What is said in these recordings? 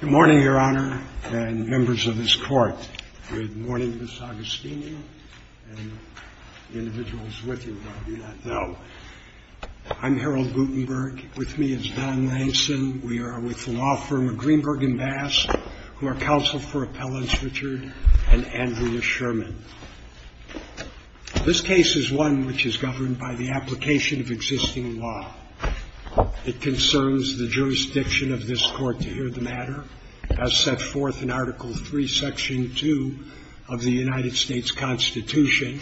Good morning, Your Honor, and members of this Court. Good morning, Ms. Agostini, and the individuals with you who I do not know. I'm Harold Guttenberg. With me is Don Langston. We are with the law firm of Greenberg & Bass, who are counsel for Appellants Richard and Andrea Sherman. This case is one which is governed by the application of existing law. It concerns the jurisdiction of this Court to hear the matter, as set forth in Article III, Section 2 of the United States Constitution,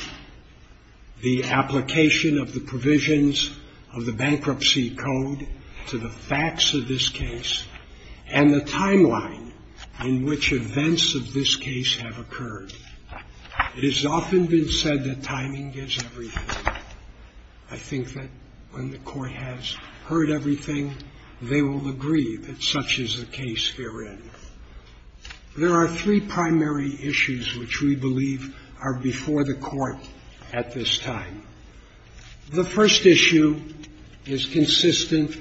the application of the provisions of the Bankruptcy Code to the facts of this case, and the timeline in which events of this case have occurred. It has often been said that timing gives everything. I think that when the Court has heard everything, they will agree that such is the case herein. There are three primary issues which we believe are before the Court at this time. The first issue is consistent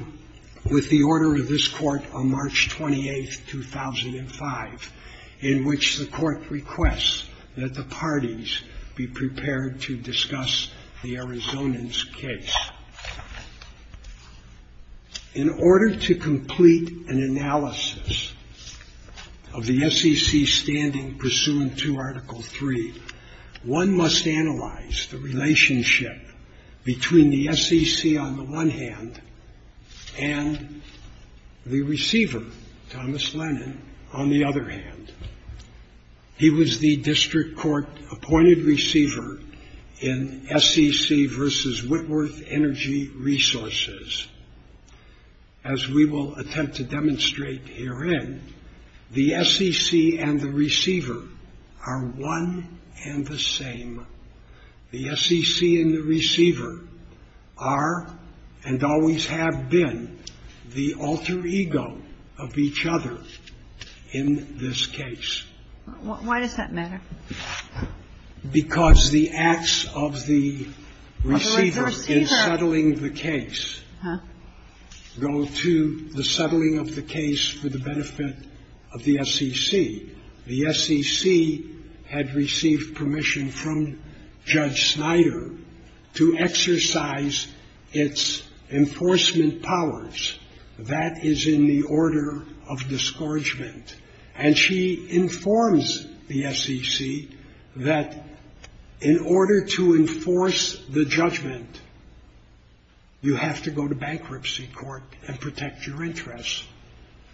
with the order of this Court on March 28, 2005, in which the Court requests that the parties be prepared to discuss the Arizonans' case. In order to complete an analysis of the SEC's standing pursuant to Article III, one must analyze the relationship between the SEC on the one hand and the receiver, Thomas Lennon, on the other hand. He was the District Court-appointed receiver in SEC v. Whitworth Energy Resources. As we will attempt to demonstrate herein, the SEC and the receiver are one and the same. The SEC and the receiver are, and always have been, the alter ego of each other in this case. Why does that matter? Because the acts of the receiver in settling the case go to the settling of the case for the benefit of the SEC. The SEC had received permission from Judge Snyder to exercise its enforcement powers. That is in the order of discouragement. And she informs the SEC that in order to enforce the judgment, you have to go to bankruptcy court and protect your interests.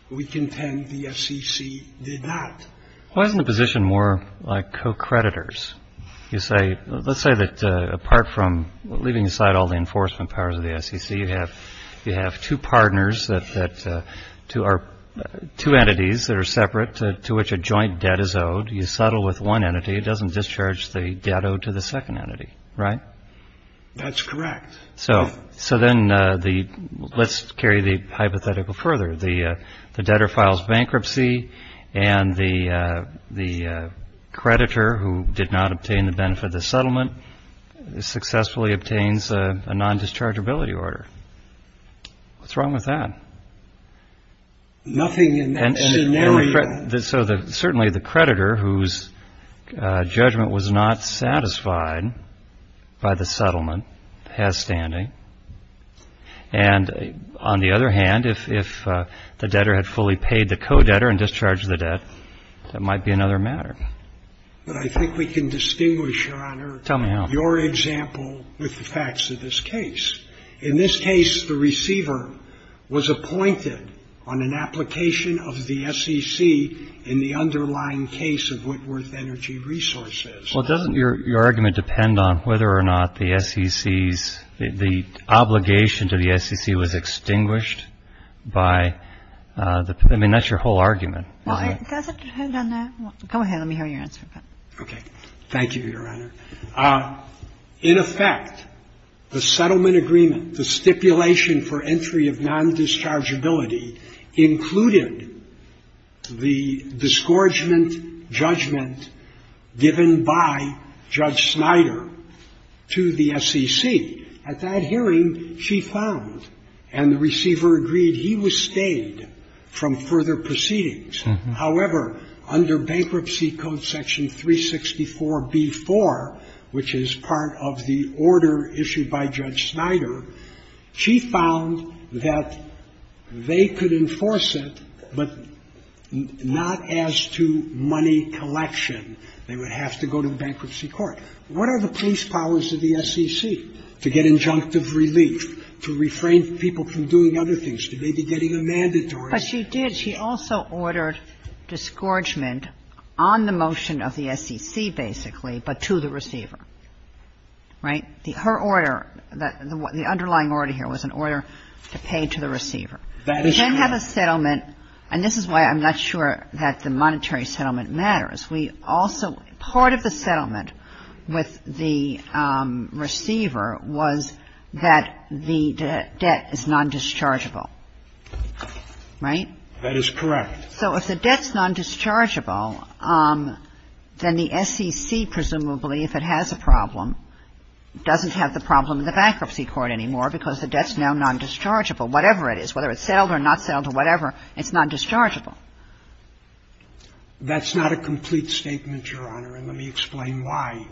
We contend the SEC did not. Why isn't the position more like co-creditors? You say, let's say that apart from leaving aside all the enforcement powers of the SEC, you have two partners that are two entities that are separate to which a joint debt is owed. You settle with one entity. It doesn't discharge the debt owed to the second entity, right? That's correct. So then let's carry the hypothetical further. The debtor files bankruptcy and the creditor, who did not obtain the benefit of the settlement, successfully obtains a non-dischargeability order. What's wrong with that? Nothing in that scenario. So certainly the creditor, whose judgment was not satisfied by the settlement, has standing. And on the other hand, if the debtor had fully paid the co-debtor and discharged the debt, that might be another matter. But I think we can distinguish, Your Honor, your example with the facts of this case. In this case, the receiver was appointed on an application of the SEC in the underlying case of Whitworth Energy Resources. Well, doesn't your argument depend on whether or not the SEC's, the obligation to the SEC was extinguished by, I mean, that's your whole argument. Hold on there. Go ahead. Let me hear your answer. Okay. Thank you, Your Honor. In effect, the settlement agreement, the stipulation for entry of non-dischargeability included the disgorgement judgment given by Judge Snyder to the SEC. At that hearing, she found and the receiver agreed he was stayed from further proceedings. However, under Bankruptcy Code section 364b-4, which is part of the order issued by Judge Snyder, she found that they could enforce it, but not as to money collection. They would have to go to the bankruptcy court. What are the police powers of the SEC to get injunctive relief, to refrain people from doing other things, to maybe getting a mandatory sentence? Well, she did. She also ordered disgorgement on the motion of the SEC, basically, but to the receiver. Right? Her order, the underlying order here was an order to pay to the receiver. That is correct. We can have a settlement, and this is why I'm not sure that the monetary settlement matters. We also, part of the settlement with the receiver was that the debt is non-dischargeable. Right? That is correct. So if the debt is non-dischargeable, then the SEC, presumably, if it has a problem, doesn't have the problem in the bankruptcy court anymore because the debt is now non-dischargeable. Whatever it is, whether it's settled or not settled or whatever, it's non-dischargeable. That's not a complete statement, Your Honor, and let me explain why.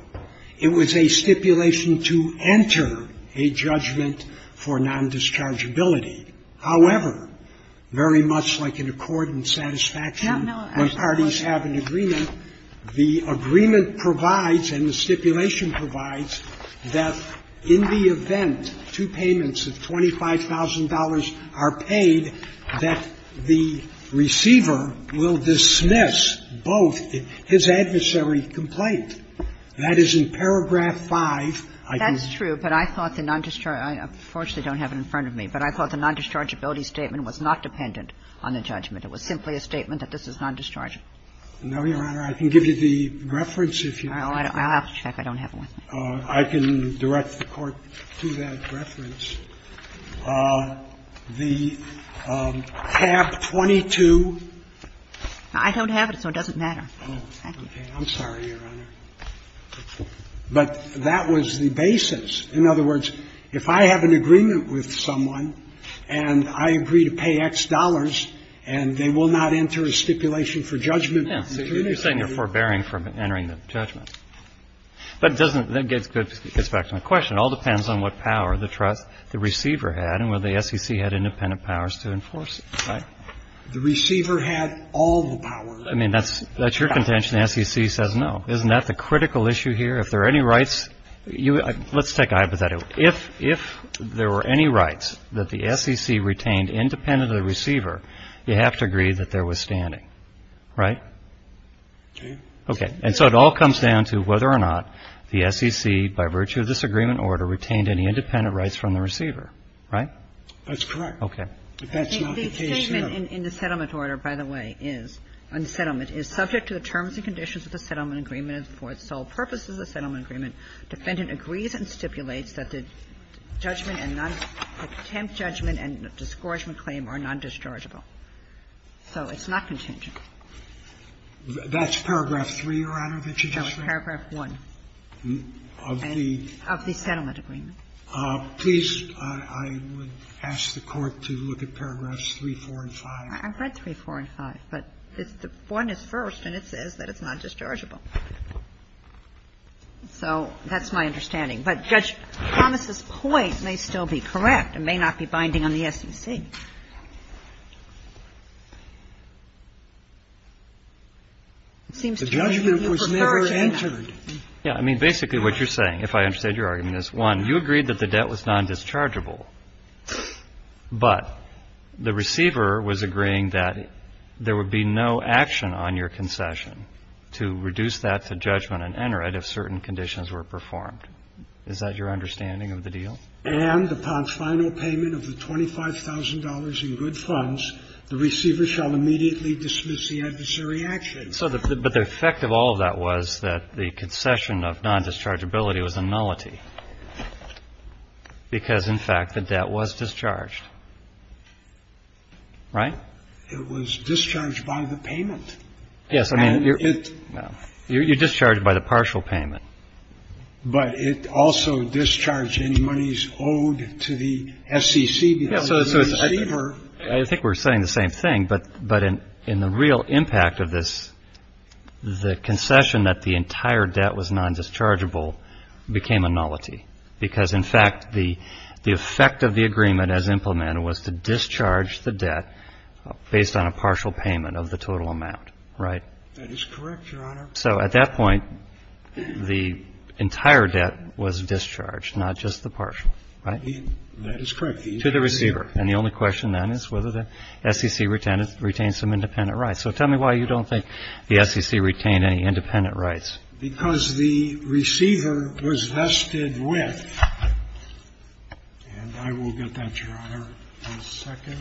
It was a stipulation to enter a judgment for non-dischargeability. However, very much like an accord and satisfaction when parties have an agreement, the agreement provides and the stipulation provides that in the event two payments of $25,000 are paid, that the receiver will dismiss both his adversary's complaint. That is in paragraph 5. I think. That's true, but I thought the non-dischargeable – I unfortunately don't have it in front of me. I don't have it in front of me. The non-dischargeability statement was not dependent on the judgment. It was simply a statement that this is non-dischargeable. No, Your Honor. I can give you the reference if you want. I'll have to check. I don't have it with me. I can direct the Court to that reference. The tab 22. I don't have it, so it doesn't matter. Thank you. I'm sorry, Your Honor. But that was the basis. In other words, if I have an agreement with someone and I agree to pay X dollars and they will not enter a stipulation for judgment. Yeah. You're saying they're forbearing from entering the judgment. But it doesn't – that gets back to my question. It all depends on what power the trust the receiver had and whether the SEC had independent powers to enforce it, right? The receiver had all the power. I mean, that's your contention. The SEC says no. Isn't that the critical issue here? If there are any rights – let's take a hypothetical. If there were any rights that the SEC retained independent of the receiver, you have to agree that there was standing. Right? Okay. Okay. And so it all comes down to whether or not the SEC, by virtue of this agreement order, retained any independent rights from the receiver. Right? That's correct. Okay. But that's not the case here. The statement in the settlement order, by the way, is, on the settlement, is subject to the terms and conditions of the settlement agreement for its sole purpose as a settlement agreement. Defendant agrees and stipulates that the judgment and non – the contempt judgment and discouragement claim are non-dischargeable. So it's not contingent. That's paragraph 3, Your Honor, that you just read? No, it's paragraph 1. Of the? Of the settlement agreement. Please, I would ask the Court to look at paragraphs 3, 4, and 5. I've read 3, 4, and 5, but it's the – 1 is first, and it says that it's non-dischargeable. So that's my understanding. But Judge Thomas's point may still be correct and may not be binding on the SEC. It seems to me that you prefer to do that. Yeah, I mean, basically what you're saying, if I understand your argument, is, one, you agreed that the debt was non-dischargeable, but the receiver was agreeing that there would be no action on your concession to reduce that to judgment and enter it if certain conditions were performed. Is that your understanding of the deal? And upon final payment of the $25,000 in good funds, the receiver shall immediately dismiss the adversary action. But the effect of all of that was that the concession of non-dischargeability was a nullity because, in fact, the debt was discharged. Right? It was discharged by the payment. Yes. I mean, you're – you're discharged by the partial payment. But it also discharged any monies owed to the SEC. I think we're saying the same thing, but in the real impact of this, the concession that the entire debt was non-dischargeable became a nullity because, in fact, the effect of the agreement as implemented was to discharge the debt based on a partial payment of the total amount. Right? That is correct, Your Honor. So at that point, the entire debt was discharged, not just the partial. Right? That is correct. To the receiver. And the only question then is whether the SEC retained some independent rights. So tell me why you don't think the SEC retained any independent rights. Because the receiver was vested with – and I will get that, Your Honor, in a second.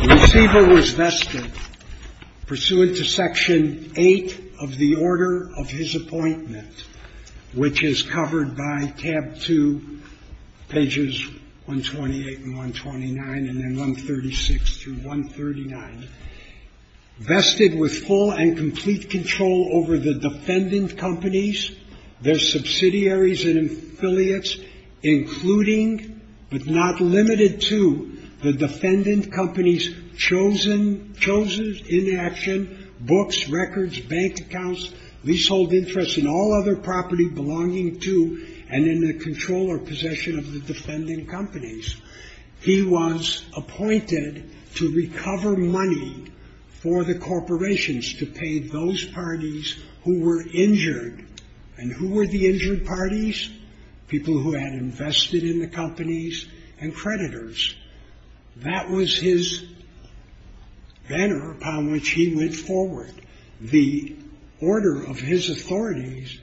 The receiver was vested pursuant to Section 8 of the Order of His Appointment, which is covered by tab 2, pages 128 and 129, and then 136 through 139. Vested with full and complete control over the defendant companies, their subsidiaries and affiliates, including, but not limited to, the defendant companies' chosen – belonging to and in the control or possession of the defendant companies. He was appointed to recover money for the corporations to pay those parties who were injured. And who were the injured parties? People who had invested in the companies and creditors. That was his banner upon which he went forward. The order of his authorities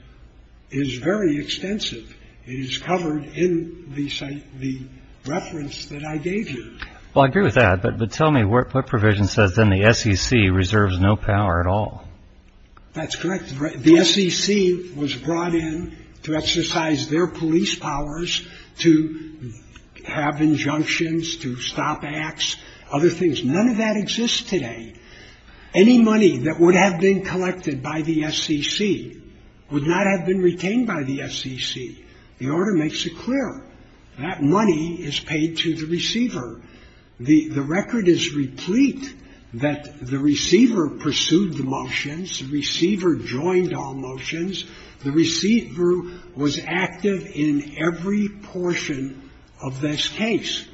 is very extensive. It is covered in the reference that I gave you. Well, I agree with that. But tell me, what provision says then the SEC reserves no power at all? That's correct. The SEC was brought in to exercise their police powers, to have injunctions, to stop acts, other things. None of that exists today. Any money that would have been collected by the SEC would not have been retained by the SEC. The order makes it clear. That money is paid to the receiver. The record is replete that the receiver pursued the motions. The receiver joined all motions. The receiver was active in every portion of this case.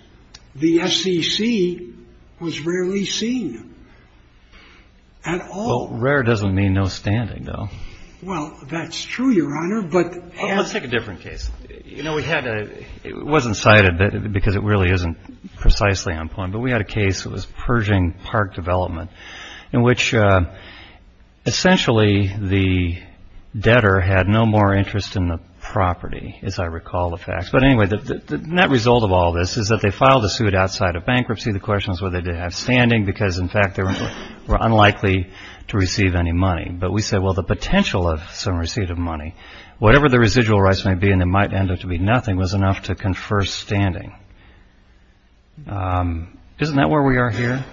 The SEC was rarely seen at all. Well, rare doesn't mean no standing, though. Well, that's true, Your Honor. Let's take a different case. You know, it wasn't cited because it really isn't precisely on point. But we had a case, it was Pershing Park Development, in which essentially the debtor had no more interest in the property, as I recall the facts. But anyway, the net result of all this is that they filed a suit outside of bankruptcy. The question is whether they did have standing because, in fact, they were unlikely to receive any money. But we said, well, the potential of some receipt of money, whatever the residual rights may be, and it might end up to be nothing, was enough to confer standing. Isn't that where we are here?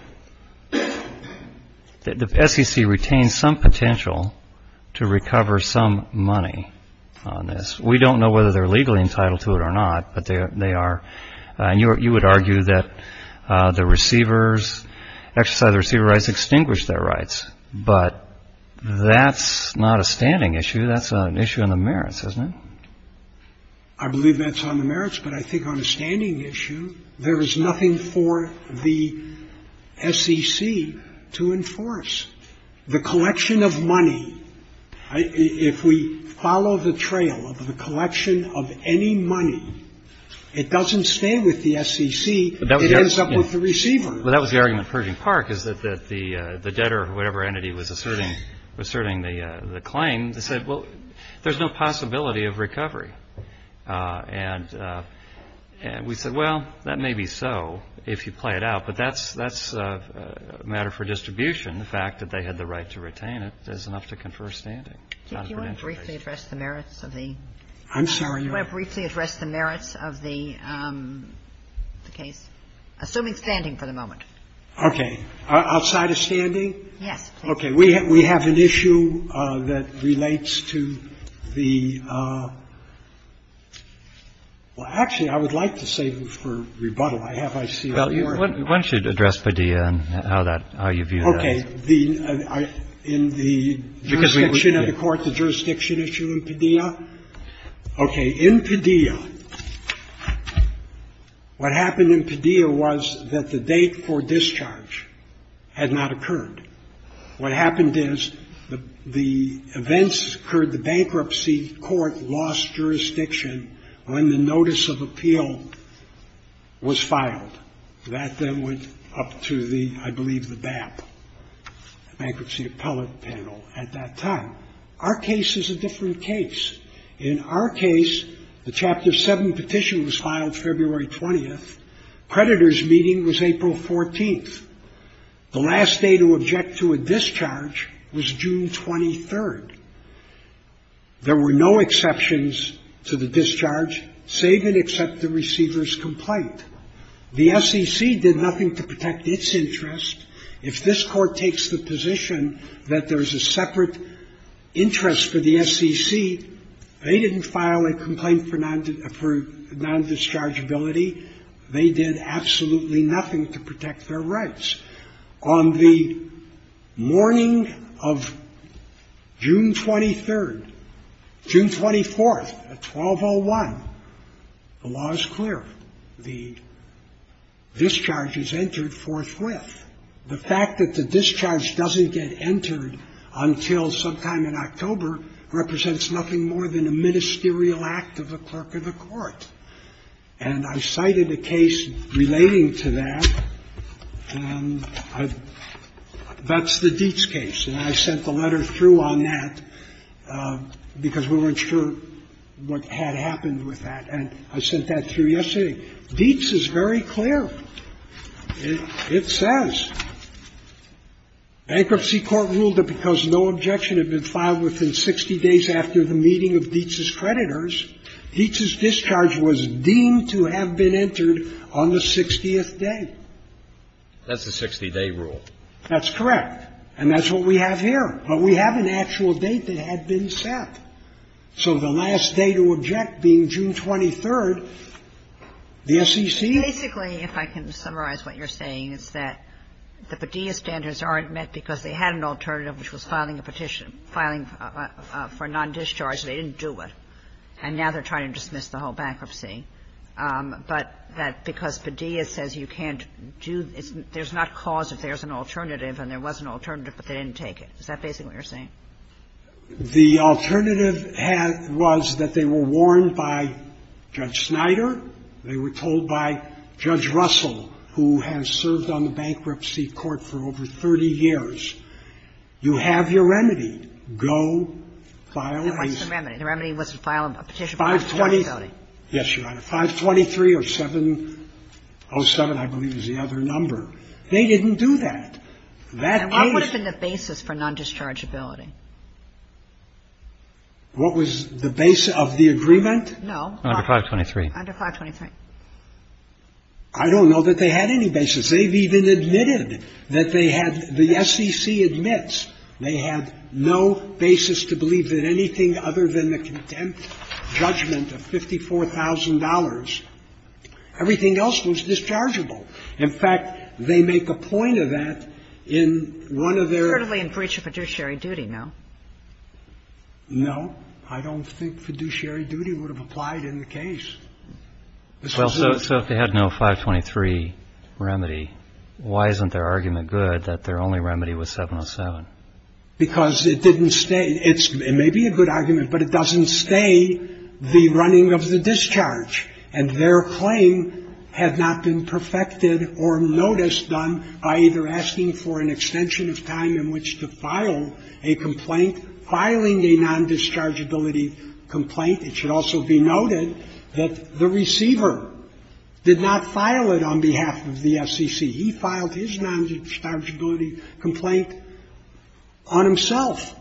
The SEC retains some potential to recover some money on this. We don't know whether they're legally entitled to it or not, but they are. You would argue that the receivers, exercise the receiver rights, extinguish their rights. But that's not a standing issue. That's an issue on the merits, isn't it? I believe that's on the merits. But I think on a standing issue, there is nothing for the SEC to enforce. The collection of money, if we follow the trail of the collection of any money, it doesn't stay with the SEC. It ends up with the receiver. Well, that was the argument of Pershing Park, is that the debtor or whatever entity was asserting the claim, they said, well, there's no possibility of recovery. And we said, well, that may be so if you play it out. But that's a matter for distribution. The fact that they had the right to retain it is enough to confer standing. It's not a credential case. Do you want to briefly address the merits of the case? Assuming standing for the moment. Okay. Outside of standing? Yes, please. Okay. We have an issue that relates to the – well, actually, I would like to save it for rebuttal. I have ICR. Why don't you address Padilla and how that – how you view that? Okay. In the jurisdiction of the court, the jurisdiction issue in Padilla? Okay. In Padilla, what happened in Padilla was that the date for discharge had not occurred. What happened is the events occurred. The bankruptcy court lost jurisdiction when the notice of appeal was filed. That then went up to the – I believe the BAP, bankruptcy appellate panel, at that time. Our case is a different case. In our case, the Chapter 7 petition was filed February 20th. Creditor's meeting was April 14th. The last day to object to a discharge was June 23rd. There were no exceptions to the discharge save and except the receiver's complaint. The SEC did nothing to protect its interest. If this Court takes the position that there is a separate interest for the SEC, they didn't file a complaint for non-dischargeability. They did absolutely nothing to protect their rights. On the morning of June 23rd – June 24th at 12.01, the law is clear. The discharge is entered forthwith. The fact that the discharge doesn't get entered until sometime in October represents nothing more than a ministerial act of the clerk of the court. And I cited a case relating to that, and that's the Dietz case. And I sent the letter through on that because we weren't sure what had happened with that. And I sent that through yesterday. Dietz is very clear. It says, Bankruptcy Court ruled that because no objection had been filed within 60 days after the meeting of Dietz's creditors, Dietz's discharge was deemed to have been entered on the 60th day. That's the 60-day rule. That's correct. And that's what we have here. But we have an actual date that had been set. So the last day to object being June 23rd, the SEC – The Padilla standards aren't met because they had an alternative, which was filing a petition – filing for non-discharge. They didn't do it. And now they're trying to dismiss the whole bankruptcy. But that because Padilla says you can't do – there's not cause if there's an alternative, and there was an alternative, but they didn't take it. Is that basically what you're saying? The alternative had – was that they were warned by Judge Snyder. They were told by Judge Russell, who has served on the Bankruptcy Court for over 30 years, you have your remedy. Go file a – It wasn't a remedy. The remedy was to file a petition for non-dischargeability. Yes, Your Honor. 523 or 707, I believe, is the other number. They didn't do that. That is – And what would have been the basis for non-dischargeability? What was the base of the agreement? Under 523. Under 523. I don't know that they had any basis. They've even admitted that they had – the SEC admits they had no basis to believe that anything other than the contempt judgment of $54,000, everything else was dischargeable. In fact, they make a point of that in one of their – Partly in breach of fiduciary duty, no? No. I don't think fiduciary duty would have applied in the case. So if they had no 523 remedy, why isn't their argument good that their only remedy was 707? Because it didn't stay – it may be a good argument, but it doesn't stay the running of the discharge. And their claim had not been perfected or noticed done by either asking for an extension of time in which to file a complaint, filing a non-dischargeability complaint. It should also be noted that the receiver did not file it on behalf of the SEC. He filed his non-dischargeability complaint on himself.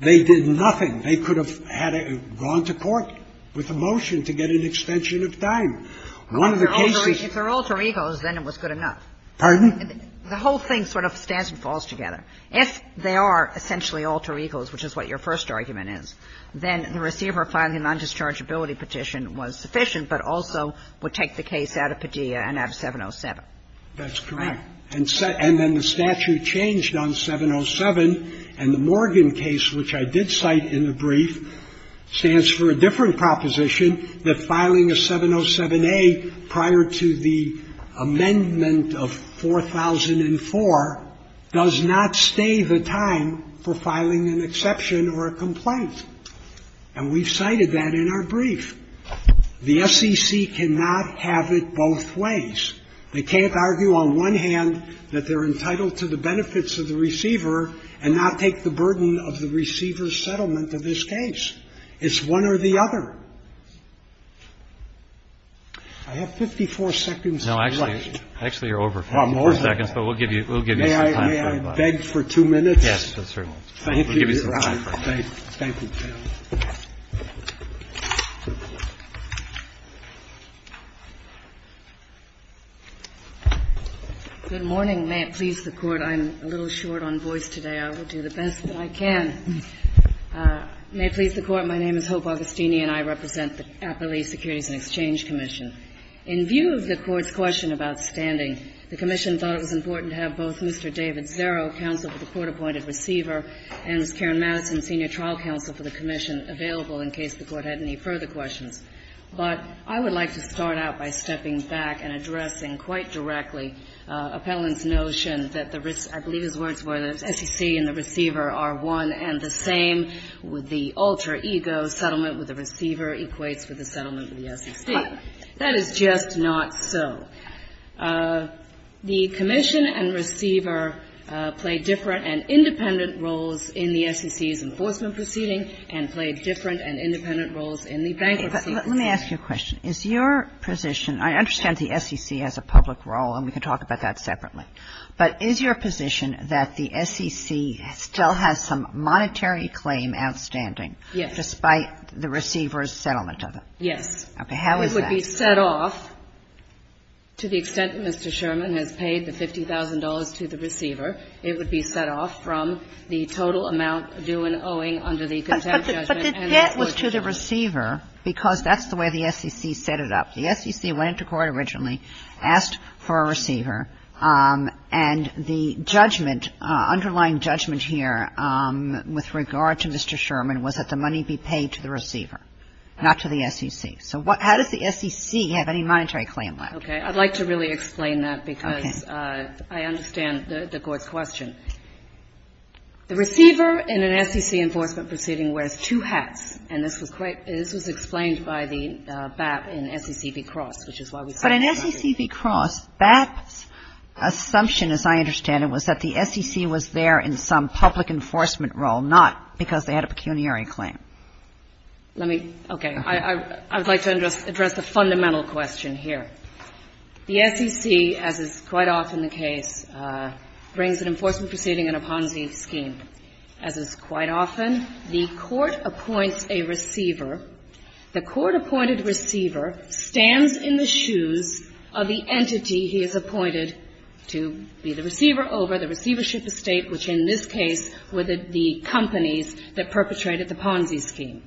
They did nothing. They could have had a – gone to court with a motion to get an extension of time. One of the cases – If they're alter egos, then it was good enough. Pardon? The whole thing sort of stands and falls together. If they are essentially alter egos, which is what your first argument is, then the receiver filing a non-dischargeability petition was sufficient, but also would take the case out of Padilla and out of 707. That's correct. And then the statute changed on 707. And the Morgan case, which I did cite in the brief, stands for a different proposition, that filing a 707A prior to the amendment of 4004 does not stay the time for filing an exception or a complaint. And we've cited that in our brief. The SEC cannot have it both ways. They can't argue on one hand that they're entitled to the benefits of the receiver and not take the burden of the receiver's settlement of this case. It's one or the other. I have 54 seconds left. Actually, you're over 54 seconds, but we'll give you some time. May I beg for two minutes? Yes, sir. Thank you. Thank you. Good morning. May it please the Court. I'm a little short on voice today. I will do the best that I can. May it please the Court. My name is Hope Augustini, and I represent the Appellee Securities and Exchange Commission. In view of the Court's question about standing, the Commission thought it was important to have both Mr. David Zerro, counsel for the court-appointed receiver, and Ms. Karen Madison, senior trial counsel for the Commission, available in case the Court had any further questions. But I would like to start out by stepping back and addressing quite directly Appellant's notion that the risk, I believe his words were the SEC and the receiver are one and the same, with the alter ego settlement with the receiver equates with the settlement with the SEC. That is just not so. The Commission and receiver play different and independent roles in the SEC's enforcement proceeding and play different and independent roles in the bankruptcy. Let me ask you a question. Is your position, I understand the SEC has a public role, and we can talk about that separately, but is your position that the SEC still has some monetary claim outstanding despite the receiver's settlement of it? Yes. Okay. How is that? It would be set off, to the extent that Mr. Sherman has paid the $50,000 to the receiver, it would be set off from the total amount due and owing under the contempt judgment The debt was to the receiver because that's the way the SEC set it up. The SEC went into court originally, asked for a receiver, and the judgment, underlying judgment here with regard to Mr. Sherman was that the money be paid to the receiver, not to the SEC. So how does the SEC have any monetary claim left? Okay. I'd like to really explain that because I understand the Court's question. The receiver in an SEC enforcement proceeding wears two hats, and this was quite — this was explained by the BAP in SEC v. Cross, which is why we set that up. But in SEC v. Cross, BAP's assumption, as I understand it, was that the SEC was there in some public enforcement role, not because they had a pecuniary claim. Let me — okay. I would like to address the fundamental question here. The SEC, as is quite often the case, brings an enforcement proceeding in a Ponzi scheme. As is quite often, the Court appoints a receiver. The Court-appointed receiver stands in the shoes of the entity he is appointed to be the receiver over, the receivership estate, which in this case were the companies that perpetrated the Ponzi scheme.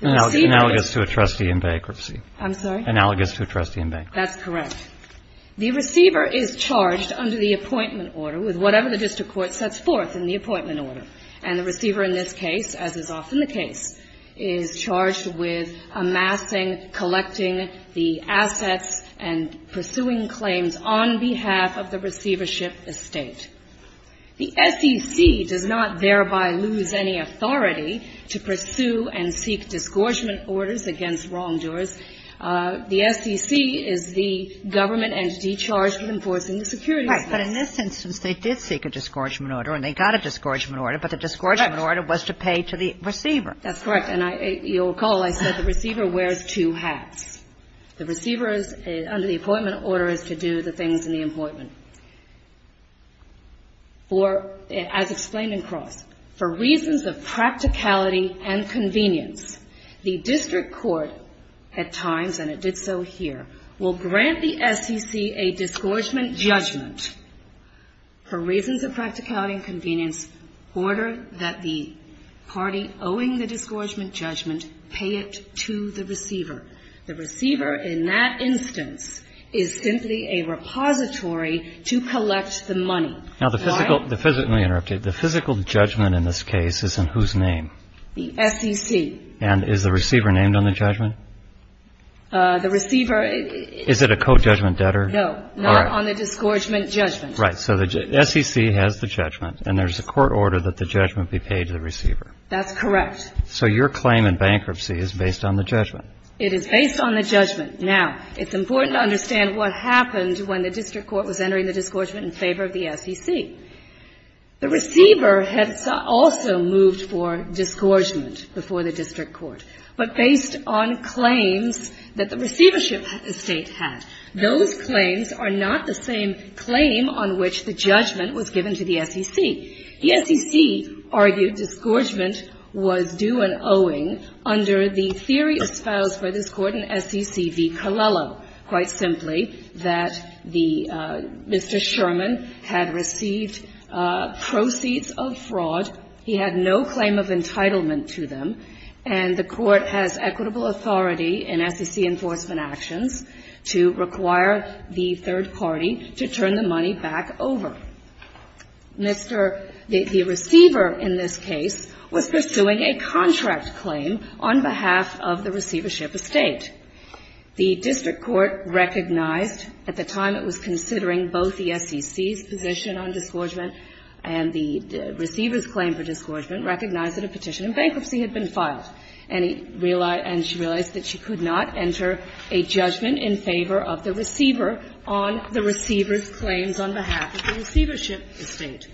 The receiver — Analogous to a trustee in bankruptcy. I'm sorry? Analogous to a trustee in bankruptcy. That's correct. The receiver is charged under the appointment order with whatever the district court sets forth in the appointment order. And the receiver in this case, as is often the case, is charged with amassing, collecting the assets and pursuing claims on behalf of the receivership estate. The SEC does not thereby lose any authority to pursue and seek disgorgement orders against wrongdoers. The SEC is the government entity charged with enforcing the security laws. Right. But in this instance, they did seek a disgorgement order, and they got a disgorgement order. Correct. But the disgorgement order was to pay to the receiver. That's correct. And I — you'll recall I said the receiver wears two hats. The receiver is — under the appointment order is to do the things in the appointment. For — as explained in Cross, for reasons of practicality and convenience, the district court at times, and it did so here, will grant the SEC a disgorgement judgment for reasons of practicality and convenience, order that the party owing the disgorgement judgment pay it to the receiver. The receiver in that instance is simply a repository to collect the money. Now, the physical — let me interrupt you. The physical judgment in this case is in whose name? The SEC. And is the receiver named on the judgment? The receiver — Is it a co-judgment debtor? No. All right. Not on the disgorgement judgment. Right. So the SEC has the judgment, and there's a court order that the judgment be paid to the receiver. That's correct. So your claim in bankruptcy is based on the judgment. It is based on the judgment. Now, it's important to understand what happened when the district court was entering the disgorgement in favor of the SEC. The receiver had also moved for disgorgement before the district court. But based on claims that the receivership estate had, those claims are not the same claim on which the judgment was given to the SEC. The SEC argued disgorgement was due an owing under the theory espoused by this Court in SEC v. Colello, quite simply, that the — Mr. Sherman had received proceeds of fraud. He had no claim of entitlement to them. And the Court has equitable authority in SEC enforcement actions to require the third party to turn the money back over. Mr. — the receiver in this case was pursuing a contract claim on behalf of the receivership estate. The district court recognized — at the time it was considering both the SEC's position on disgorgement and the receiver's claim for disgorgement — recognized that a petition in bankruptcy had been filed. And he realized — and she realized that she could not enter a judgment in favor of the receiver on the receiver's claims on behalf of the receivership estate.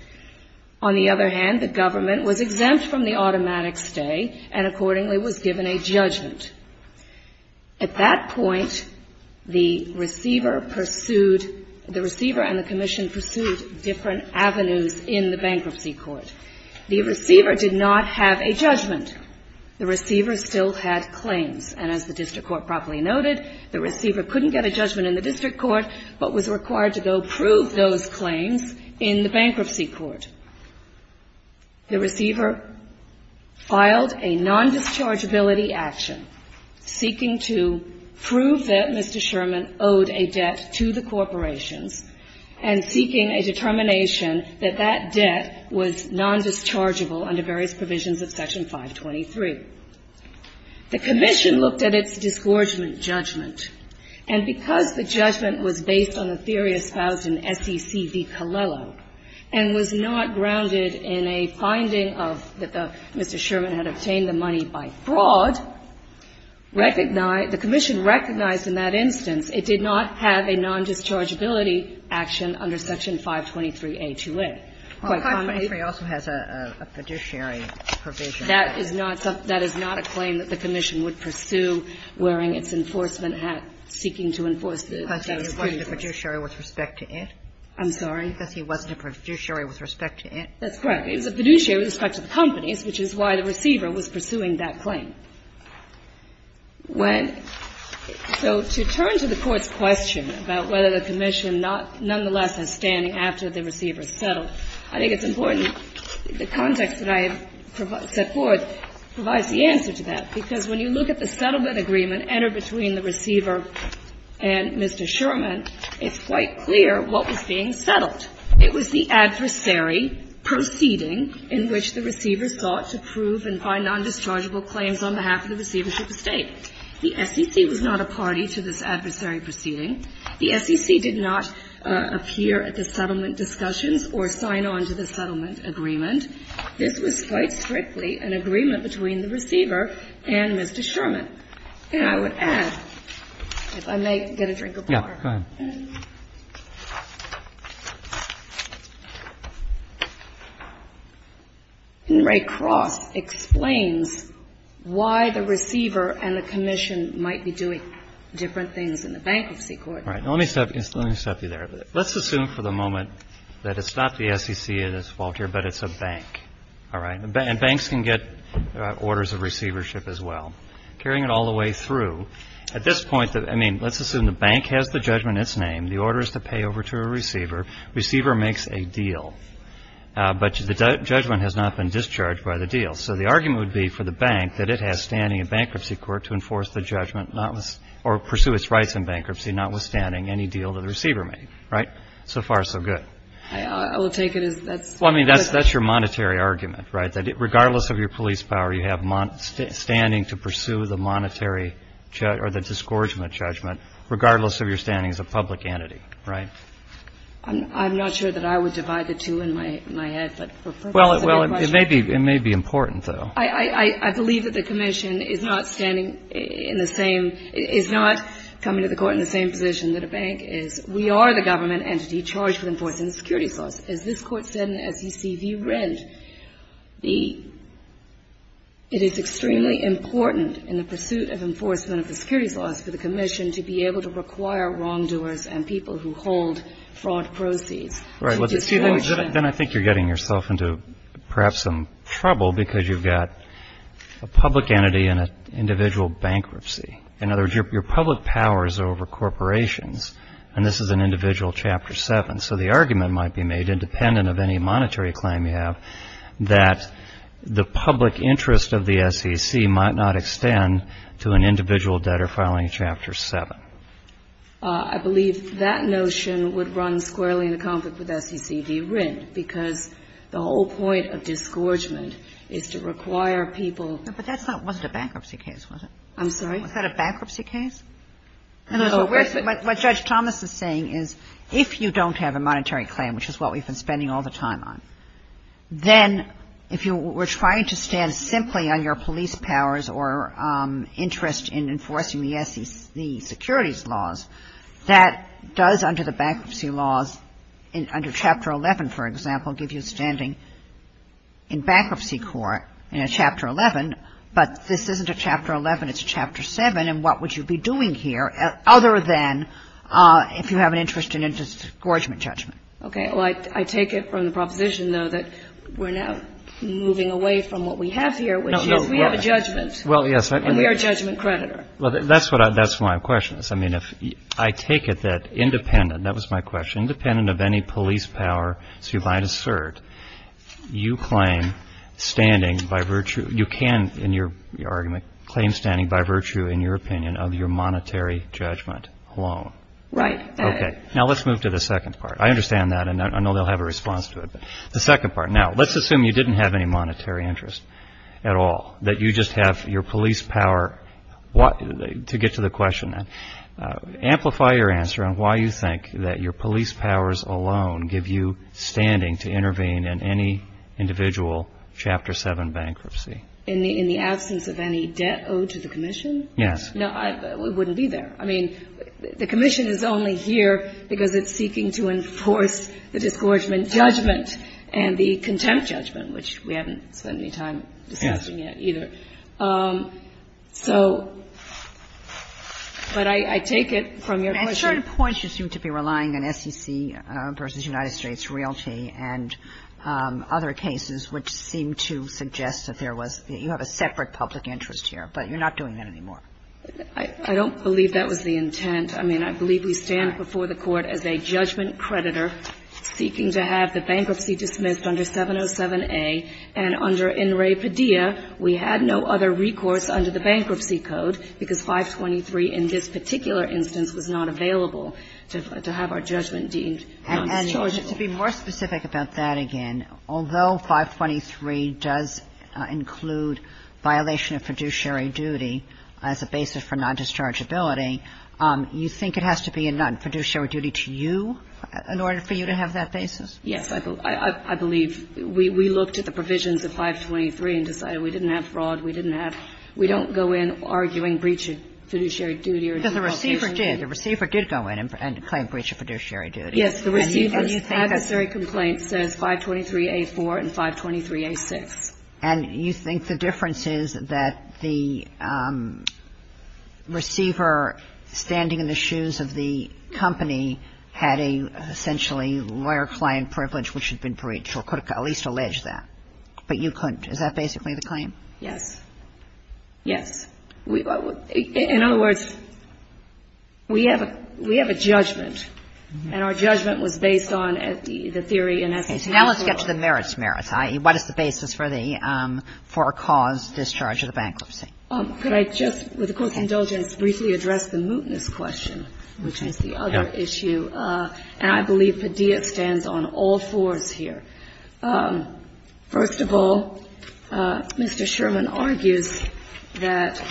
On the other hand, the government was exempt from the automatic stay and accordingly was given a judgment. At that point, the receiver pursued — the receiver and the commission pursued different avenues in the bankruptcy court. The receiver did not have a judgment. The receiver still had claims. And as the district court properly noted, the receiver couldn't get a judgment in the district court but was required to go prove those claims in the bankruptcy court. The receiver filed a nondischargeability action seeking to prove that Mr. Sherman owed a debt to the corporations and seeking a determination that that debt was nondischargeable under various provisions of Section 523. The commission looked at its disgorgement judgment, and because the judgment was based on the theory espoused in SEC v. Colello and was not grounded in a finding of that Mr. Sherman had obtained the money by fraud, recognized — the commission recognized in that instance it did not have a nondischargeability action under Section 523A2A. Quite commonly — Well, 523 also has a fiduciary provision. That is not — that is not a claim that the commission would pursue wearing its enforcement hat seeking to enforce the — Because he wasn't a fiduciary with respect to it? I'm sorry? Because he wasn't a fiduciary with respect to it? That's correct. He was a fiduciary with respect to the companies, which is why the receiver was pursuing that claim. When — so to turn to the Court's question about whether the commission not — nonetheless has standing after the receiver is settled, I think it's important the context that I have set forth provides the answer to that, because when you look at the settlement agreement entered between the receiver and Mr. Sherman, it's quite clear what was being settled. It was the adversary proceeding in which the receiver sought to prove and find nondischargeable claims on behalf of the receivership estate. The SEC was not a party to this adversary proceeding. The SEC did not appear at the settlement discussions or sign on to the settlement agreement. This was quite strictly an agreement between the receiver and Mr. Sherman. And I would add, if I may get a drink of water. Yeah. Go ahead. Ray Cross explains why the receiver and the commission might be doing different things in the bankruptcy court. All right. Let me stop you there. Let's assume for the moment that it's not the SEC's fault here, but it's a bank. All right. And banks can get orders of receivership as well. Carrying it all the way through, at this point, I mean, let's assume the bank has the judgment in its name. The order is to pay over to a receiver. Receiver makes a deal. But the judgment has not been discharged by the deal. So the argument would be for the bank that it has standing in bankruptcy court to enforce the judgment or pursue its rights in bankruptcy, notwithstanding any deal that the receiver made. Right? So far, so good. I will take it as that's the point. Well, I mean, that's your monetary argument, right, that regardless of your police power, you have standing to pursue the monetary or the disgorgement judgment, regardless of your standing as a public entity. Right? I'm not sure that I would divide the two in my head. But for purposes of that question ---- Well, it may be important, though. I believe that the commission is not standing in the same ---- is not coming to the court in the same position that a bank is. We are the government entity charged with enforcing the security clause. As this Court said and as ECV read, the ---- it is extremely important in the pursuit of enforcement of the securities laws for the commission to be able to require wrongdoers and people who hold fraud proceeds to disgorge them. Right. But then I think you're getting yourself into perhaps some trouble because you've got a public entity and an individual bankruptcy. In other words, your public power is over corporations. And this is an individual Chapter 7. So the argument might be made, independent of any monetary claim you have, that the public interest of the SEC might not extend to an individual debtor filing Chapter 7. I believe that notion would run squarely in the conflict with SECD writ, because the whole point of disgorgement is to require people ---- But that's not ---- wasn't a bankruptcy case, was it? I'm sorry? Was that a bankruptcy case? No. What Judge Thomas is saying is if you don't have a monetary claim, which is what we've been spending all the time on, then if you were trying to stand simply on your police powers or interest in enforcing the SEC securities laws, that does under the bankruptcy laws, under Chapter 11, for example, give you standing in bankruptcy court in a Chapter 11, but this isn't a Chapter 11, it's a Chapter 7, and what would you be doing here other than if you have an interest in a disgorgement judgment? Okay. Well, I take it from the proposition, though, that we're now moving away from what we have here, which is we have a judgment. Well, yes. And we are a judgment creditor. Well, that's what I ---- that's what my question is. I mean, if I take it that independent, that was my question, independent of any police power, so you might assert, you claim standing by virtue ---- you can, in your argument, claim standing by virtue, in your opinion, of your monetary judgment alone. Right. Okay. Now, let's move to the second part. I understand that, and I know they'll have a response to it, but the second part. Now, let's assume you didn't have any monetary interest at all, that you just have your police power. To get to the question, amplify your answer on why you think that your police powers alone give you standing to intervene in any individual Chapter 7 bankruptcy. In the absence of any debt owed to the commission? Yes. No, it wouldn't be there. I mean, the commission is only here because it's seeking to enforce the disgorgement judgment and the contempt judgment, which we haven't spent any time discussing yet either. So, but I take it from your question. At certain points, you seem to be relying on SEC v. United States Realty and other cases which seem to suggest that there was the you have a separate public interest here, but you're not doing that anymore. I don't believe that was the intent. I mean, I believe we stand before the Court as a judgment creditor seeking to have the bankruptcy dismissed under 707A, and under In Re Padilla, we had no other recourse under the Bankruptcy Code because 523 in this particular instance was not available to have our judgment deemed. And to be more specific about that again, although 523 does include violation of fiduciary duty as a basis for non-dischargeability, you think it has to be a non-fiduciary duty to you in order for you to have that basis? Yes. I believe we looked at the provisions of 523 and decided we didn't have fraud, we didn't have we don't go in arguing breach of fiduciary duty. Because the receiver did. The receiver did go in and claim breach of fiduciary duty. Yes, the receiver's adversary complaint says 523A4 and 523A6. And you think the difference is that the receiver standing in the shoes of the company had a essentially lawyer-client privilege which had been breached or could at least allege that. But you couldn't. Is that basically the claim? Yes. Yes. In other words, we have a judgment. And our judgment was based on the theory in essence. Okay. Now let's get to the merits merits, i.e., what is the basis for the for-cause discharge of the bankruptcy? Could I just, with a quick indulgence, briefly address the mootness question, which is the other issue? And I believe Padilla stands on all fours here. First of all, Mr. Sherman argues that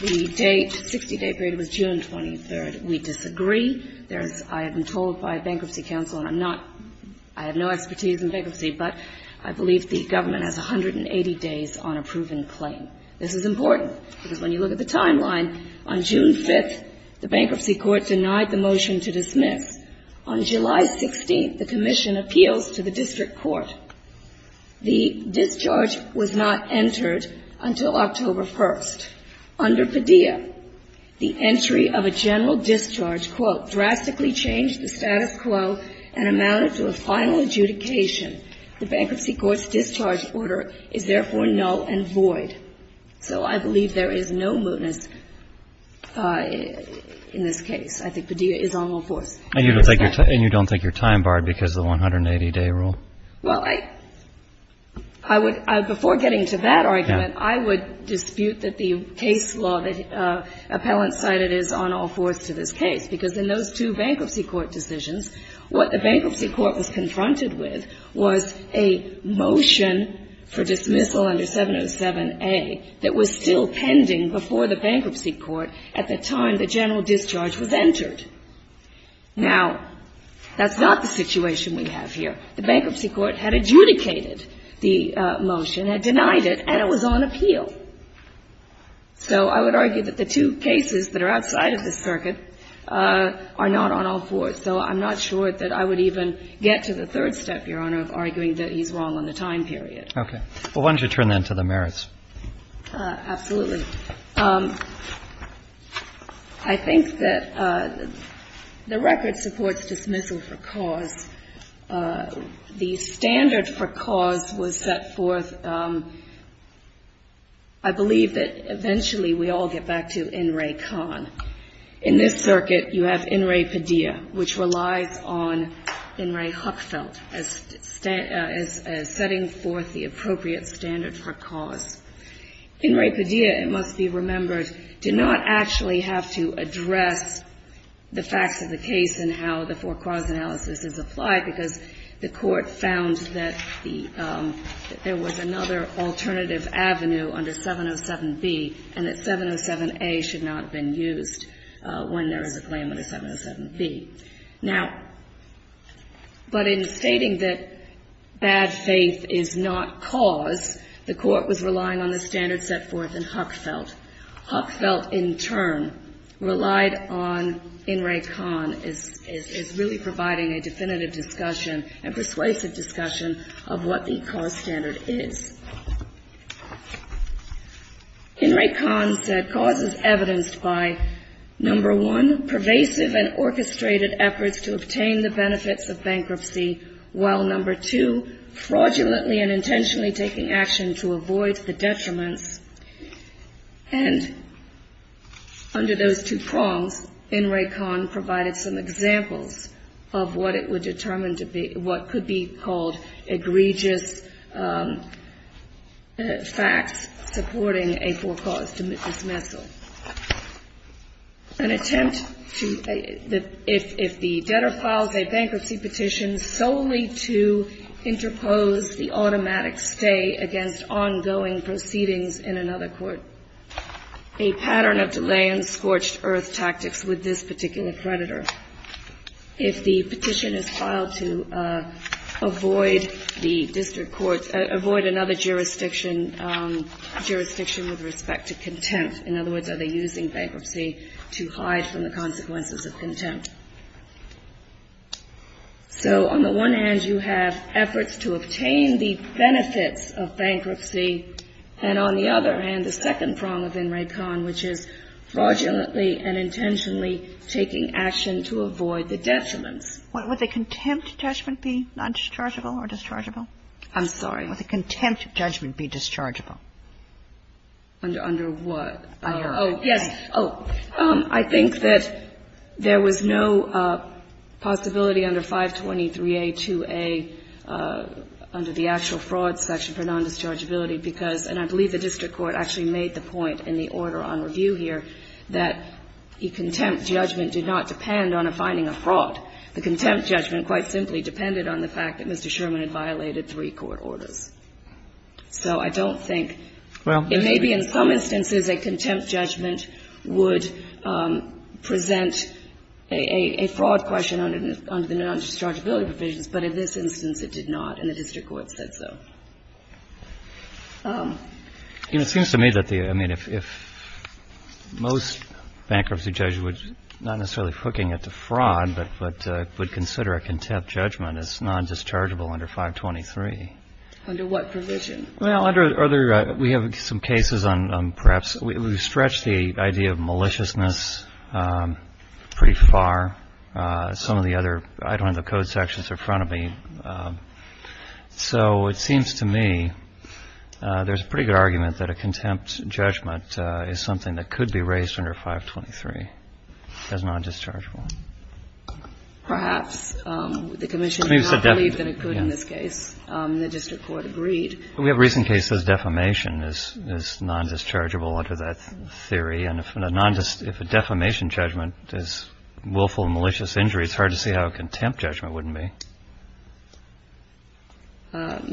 the date, 60-day period was June 23rd. We disagree. There's, I have been told by a bankruptcy counsel, and I'm not, I have no expertise in bankruptcy, but I believe the government has 180 days on a proven claim. This is important, because when you look at the timeline, on June 5th, the bankruptcy court denied the motion to dismiss. On July 16th, the commission appeals to the district court. The discharge was not entered until October 1st. Under Padilla, the entry of a general discharge, quote, drastically changed the status quo and amounted to a final adjudication. The bankruptcy court's discharge order is therefore null and void. So I believe there is no mootness in this case. I think Padilla is on all fours. And you don't think you're time-barred because of the 180-day rule? Well, I would, before getting to that argument, I would dispute that the case law that Appellant cited is on all fours to this case, because in those two bankruptcy court decisions, what the bankruptcy court was confronted with was a motion for dismissal under 707A that was still pending before the bankruptcy court at the time the general discharge was entered. Now, that's not the situation we have here. The bankruptcy court had adjudicated the motion, had denied it, and it was on appeal. So I would argue that the two cases that are outside of this circuit are not on all fours. So I'm not sure that I would even get to the third step, Your Honor, of arguing that he's wrong on the time period. Okay. Well, why don't you turn then to the merits? Absolutely. I think that the record supports dismissal for cause. The standard for cause was set forth, I believe, that eventually we all get back to N. Ray Kahn. In this circuit, you have N. Ray Padilla, which relies on N. Ray Huckfeld as setting forth the appropriate standard for cause. N. Ray Padilla, it must be remembered, did not actually have to address the facts of the case and how the for-cause analysis is applied because the court found that there was another alternative avenue under 707B and that 707A should not have been used when there is a claim under 707B. Now, but in stating that bad faith is not cause, the court was relying on the standard set forth in Huckfeld. Huckfeld, in turn, relied on N. Ray Kahn as really providing a definitive discussion and persuasive discussion of what the cause standard is. N. Ray Kahn said, And under those two prongs, N. Ray Kahn provided some examples of what it would determine to be what could be called egregious facts supporting a for-cause dismissal. An attempt to, if the debtor files a bankruptcy petition solely to interpose the automatic stay against ongoing proceedings in another court, a pattern of delay and scorched earth tactics with this particular creditor. If the petition is filed to avoid the district court, avoid another jurisdiction, jurisdiction with respect to contempt. In other words, are they using bankruptcy to hide from the consequences of contempt? So on the one hand, you have efforts to obtain the benefits of bankruptcy. And on the other hand, the second prong of N. Ray Kahn, which is fraudulently and intentionally taking action to avoid the detriments. Would the contempt judgment be non-dischargeable or dischargeable? I'm sorry. Would the contempt judgment be dischargeable? Under what? Oh, yes. Oh, I think that there was no possibility under 523A, 2A, under the actual fraud section for non-dischargeability because, and I believe the district court actually made the point in the order on review here, that the contempt judgment did not depend on a finding of fraud. The contempt judgment quite simply depended on the fact that Mr. Sherman had violated three court orders. So I don't think it may be in some instances a contempt judgment would present a fraud question under the non-dischargeability provisions, but in this instance it did not, and the district court said so. And it seems to me that the, I mean, if most bankruptcy judges were not necessarily hooking it to fraud but would consider a contempt judgment as non-dischargeable under 523. Under what provision? Well, under, we have some cases on perhaps, we've stretched the idea of maliciousness pretty far. Some of the other, I don't have the code sections in front of me. So it seems to me there's a pretty good argument that a contempt judgment is something that could be raised under 523 as non-dischargeable. Perhaps. The commission did not believe that it could in this case. The district court agreed. We have recent cases defamation is non-dischargeable under that theory. And if a defamation judgment is willful malicious injury, it's hard to see how a contempt judgment wouldn't be.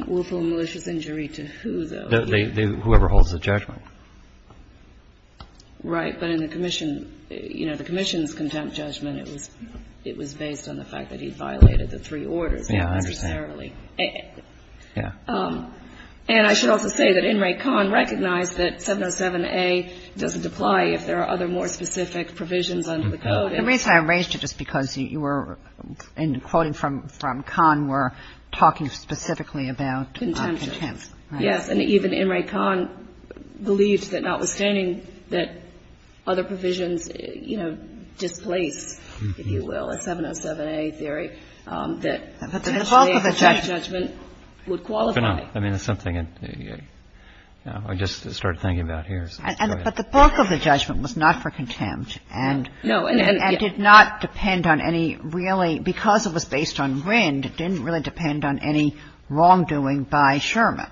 Willful malicious injury to who, though? Whoever holds the judgment. Right. But in the commission, you know, the commission's contempt judgment, it was based on the fact that he violated the three orders. Yeah, I understand. Not necessarily. Yeah. And I should also say that In re Conn recognized that 707A doesn't apply if there are other more specific provisions under the code. The reason I raised it is because you were, in quoting from Conn, were talking specifically about contempt. Yes. And even In re Conn believes that notwithstanding that other provisions, you know, displace, if you will, a 707A theory, that potentially a contempt judgment would qualify. I mean, it's something I just started thinking about here. But the bulk of the judgment was not for contempt. No. And did not depend on any really, because it was based on RIND, didn't really depend on any wrongdoing by Sherman.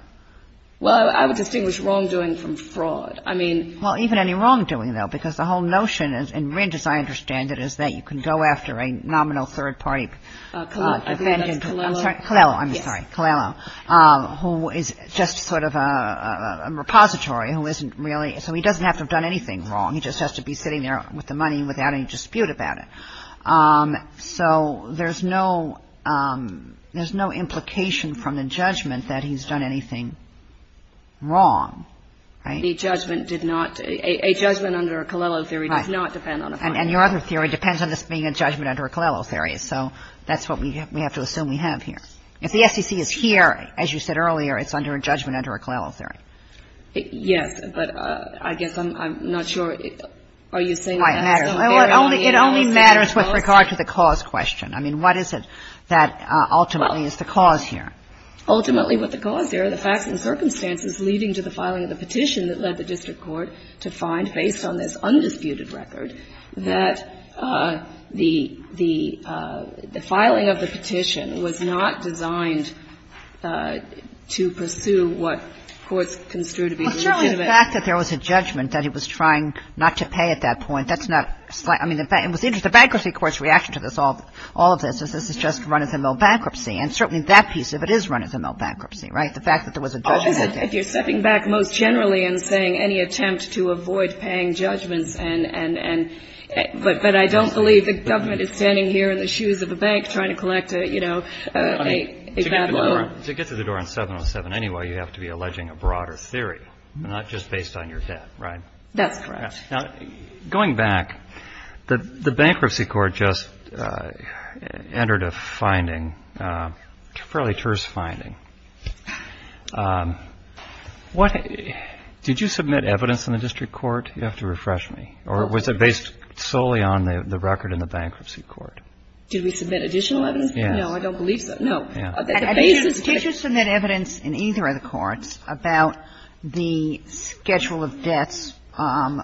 Well, I would distinguish wrongdoing from fraud. I mean — Well, even any wrongdoing, though, because the whole notion in RIND, as I understand it, is that you can go after a nominal third-party — I think that's Colello. Colello. I'm sorry. Colello. Yes. Who is just sort of a repository who isn't really — so he doesn't have to have done anything wrong. He just has to be sitting there with the money without any dispute about it. So there's no — there's no implication from the judgment that he's done anything wrong, right? The judgment did not — a judgment under a Colello theory does not depend on a — And your other theory depends on this being a judgment under a Colello theory. So that's what we have to assume we have here. If the SEC is here, as you said earlier, it's under a judgment under a Colello theory. Yes. But I guess I'm not sure — are you saying — It only matters with regard to the cause question. I mean, what is it that ultimately is the cause here? Ultimately, what the cause here are the facts and circumstances leading to the filing of the petition that led the district court to find, based on this undisputed record, that the filing of the petition was not designed to pursue what courts construed to be legitimate — Well, certainly the fact that there was a judgment that he was trying not to pay at that point, that's not — I mean, the bankruptcy court's reaction to this, all of this, is this is just run-as-a-mill bankruptcy. And certainly that piece of it is run-as-a-mill bankruptcy, right? The fact that there was a judgment — If you're stepping back most generally and saying any attempt to avoid paying judgments and — but I don't believe the government is standing here in the shoes of a bank trying to collect a, you know, a — To get to the door on 707 anyway, you have to be alleging a broader theory, not just based on your debt, right? That's correct. Now, going back, the bankruptcy court just entered a finding, a fairly terse finding. What — did you submit evidence in the district court? You have to refresh me. Or was it based solely on the record in the bankruptcy court? Did we submit additional evidence? Yes. No, I don't believe so. The basis — Did you submit evidence in either of the courts about the schedule of debts,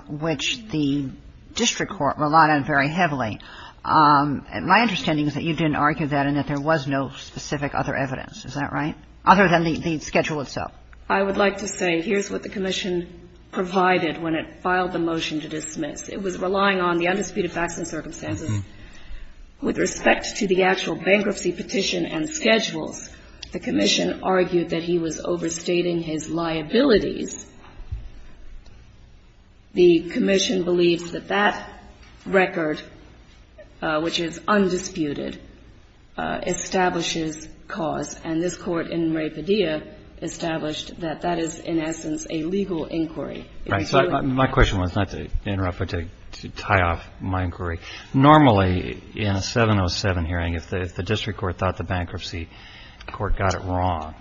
which the district court relied on very heavily? My understanding is that you didn't argue that and that there was no specific other evidence. Is that right? Other than the schedule itself. I would like to say here's what the commission provided when it filed the motion It was relying on the undisputed facts and circumstances. With respect to the actual bankruptcy petition and schedules, the commission argued that he was overstating his liabilities. The commission believed that that record, which is undisputed, establishes cause, and this court in Ray Padilla established that that is in essence a legal inquiry. Right. So my question was not to interrupt, but to tie off my inquiry. Normally in a 707 hearing, if the district court thought the bankruptcy court got it wrong,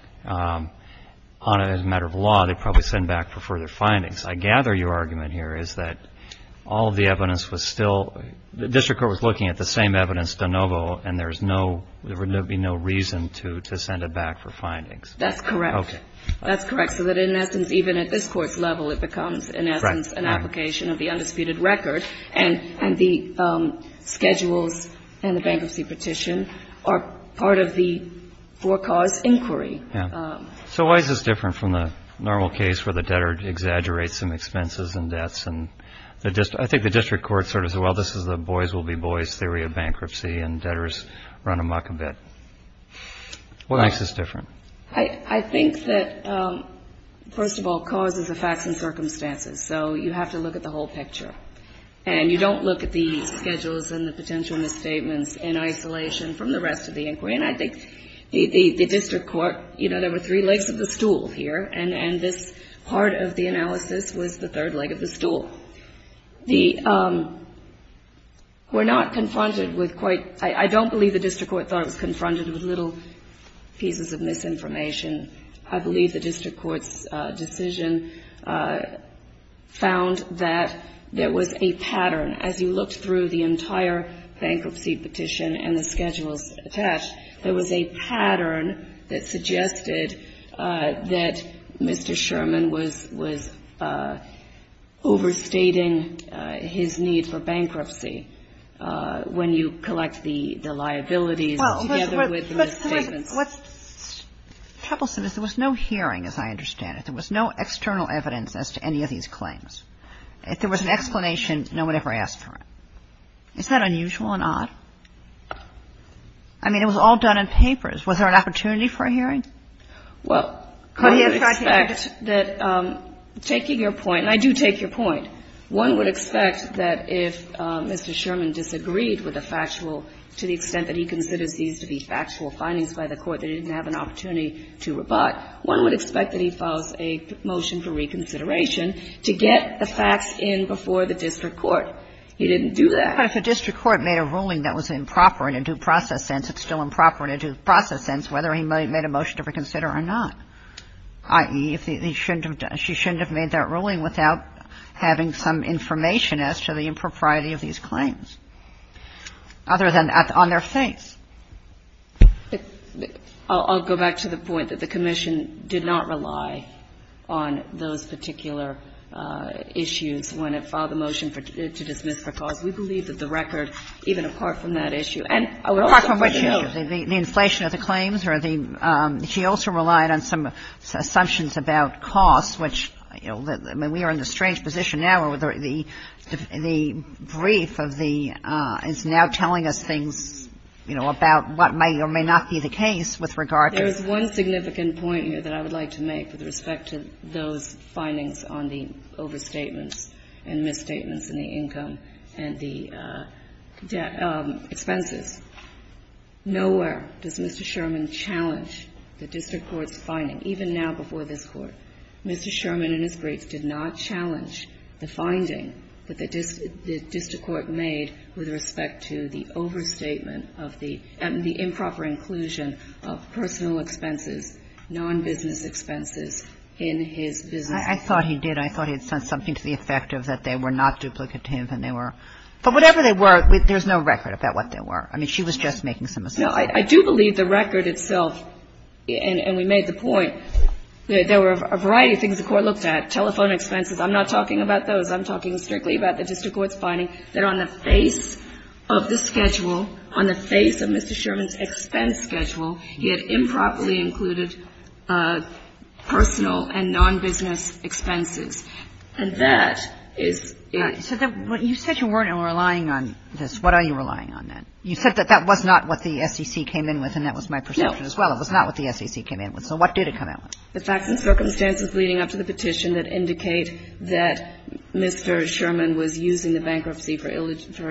on a matter of law, they'd probably send back for further findings. I gather your argument here is that all of the evidence was still — the district court was looking at the same evidence de novo, and there is no — there would be no reason to send it back for findings. That's correct. Okay. That's correct. So that in essence, even at this court's level, it becomes in essence an application of the undisputed record. And the schedules and the bankruptcy petition are part of the for cause inquiry. Yeah. So why is this different from the normal case where the debtor exaggerates some expenses and debts? And I think the district court sort of said, well, this is the boys will be boys theory of bankruptcy, and debtors run amok a bit. What makes this different? I think that, first of all, cause is the facts and circumstances. So you have to look at the whole picture. And you don't look at the schedules and the potential misstatements in isolation from the rest of the inquiry. And I think the district court — you know, there were three legs of the stool here, and this part of the analysis was the third leg of the stool. The — we're not confronted with quite — I don't believe the district court thought it was confronted with little pieces of misinformation. I believe the district court's decision found that there was a pattern. As you looked through the entire bankruptcy petition and the schedules attached, there was a pattern that suggested that Mr. Sherman was overstating his need for bankruptcy when you collect the liabilities together with the misstatements. Kagan. What's troublesome is there was no hearing, as I understand it. There was no external evidence as to any of these claims. If there was an explanation, no one ever asked for it. Is that unusual and odd? I mean, it was all done in papers. Was there an opportunity for a hearing? Well, I would expect that taking your point, and I do take your point, one would expect that if Mr. Sherman disagreed with the factual, to the extent that he considers these to be factual findings by the court that he didn't have an opportunity to rebut, one would expect that he files a motion for reconsideration to get the facts in before the district court. He didn't do that. But if a district court made a ruling that was improper in a due process sense, it's still improper in a due process sense whether he made a motion to reconsider or not, i.e., he shouldn't have done — she shouldn't have made that ruling without having some information as to the impropriety of these claims, other than on their face. But I'll go back to the point that the commission did not rely on those particular issues when it filed the motion to dismiss for cause. We believe that the record, even apart from that issue, and I would also point out the inflation of the claims or the — she also relied on some assumptions about costs, which, you know, I mean, we are in the strange position now where the — the brief of the — is now telling us things, you know, about what may or may not be the case with regard to — There is one significant point here that I would like to make with respect to those findings on the overstatements and misstatements in the income and the expenses. Nowhere does Mr. Sherman challenge the district court's finding. Even now before this Court, Mr. Sherman in his briefs did not challenge the finding that the district court made with respect to the overstatement of the — the improper inclusion of personal expenses, nonbusiness expenses in his business case. I thought he did. I thought he had said something to the effect of that they were not duplicative and they were — but whatever they were, there's no record about what they were. I mean, she was just making some assumptions. No. I do believe the record itself, and we made the point, that there were a variety of things the Court looked at, telephone expenses. I'm not talking about those. I'm talking strictly about the district court's finding that on the face of the schedule, on the face of Mr. Sherman's expense schedule, he had improperly included personal and nonbusiness expenses. And that is — So you said you weren't relying on this. What are you relying on, then? You said that that was not what the SEC came in with, and that was my perception as well. No. It was not what the SEC came in with. So what did it come in with? The facts and circumstances leading up to the petition that indicate that Mr. Sherman was using the bankruptcy for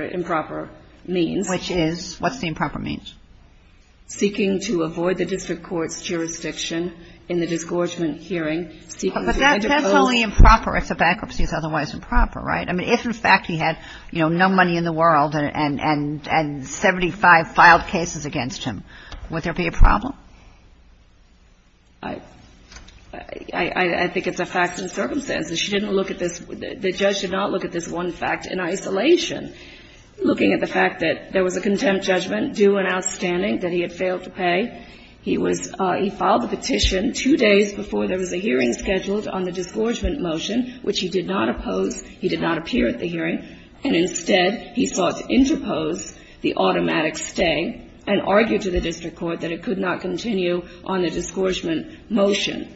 improper means. Which is? What's the improper means? Seeking to avoid the district court's jurisdiction in the disgorgement hearing. But that's only improper if the bankruptcy is otherwise improper, right? I mean, if in fact he had, you know, no money in the world and 75 filed cases against him, would there be a problem? I think it's a facts and circumstances. She didn't look at this. The judge did not look at this one fact in isolation. Looking at the fact that there was a contempt judgment due and outstanding that he had failed to pay, he was — he filed the petition two days before there was a hearing scheduled on the disgorgement motion, which he did not oppose. He did not appear at the hearing. And instead, he sought to interpose the automatic stay and argued to the district court that it could not continue on the disgorgement motion.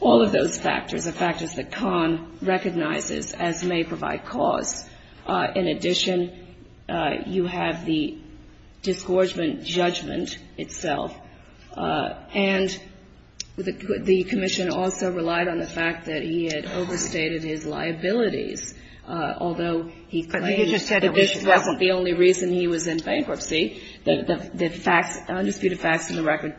All of those factors are factors that Kahn recognizes as may provide cause. In addition, you have the disgorgement judgment itself. And the commission also relied on the fact that he had overstated his liabilities, although he claimed that this wasn't the only reason he was in bankruptcy. The facts, the undisputed facts in the record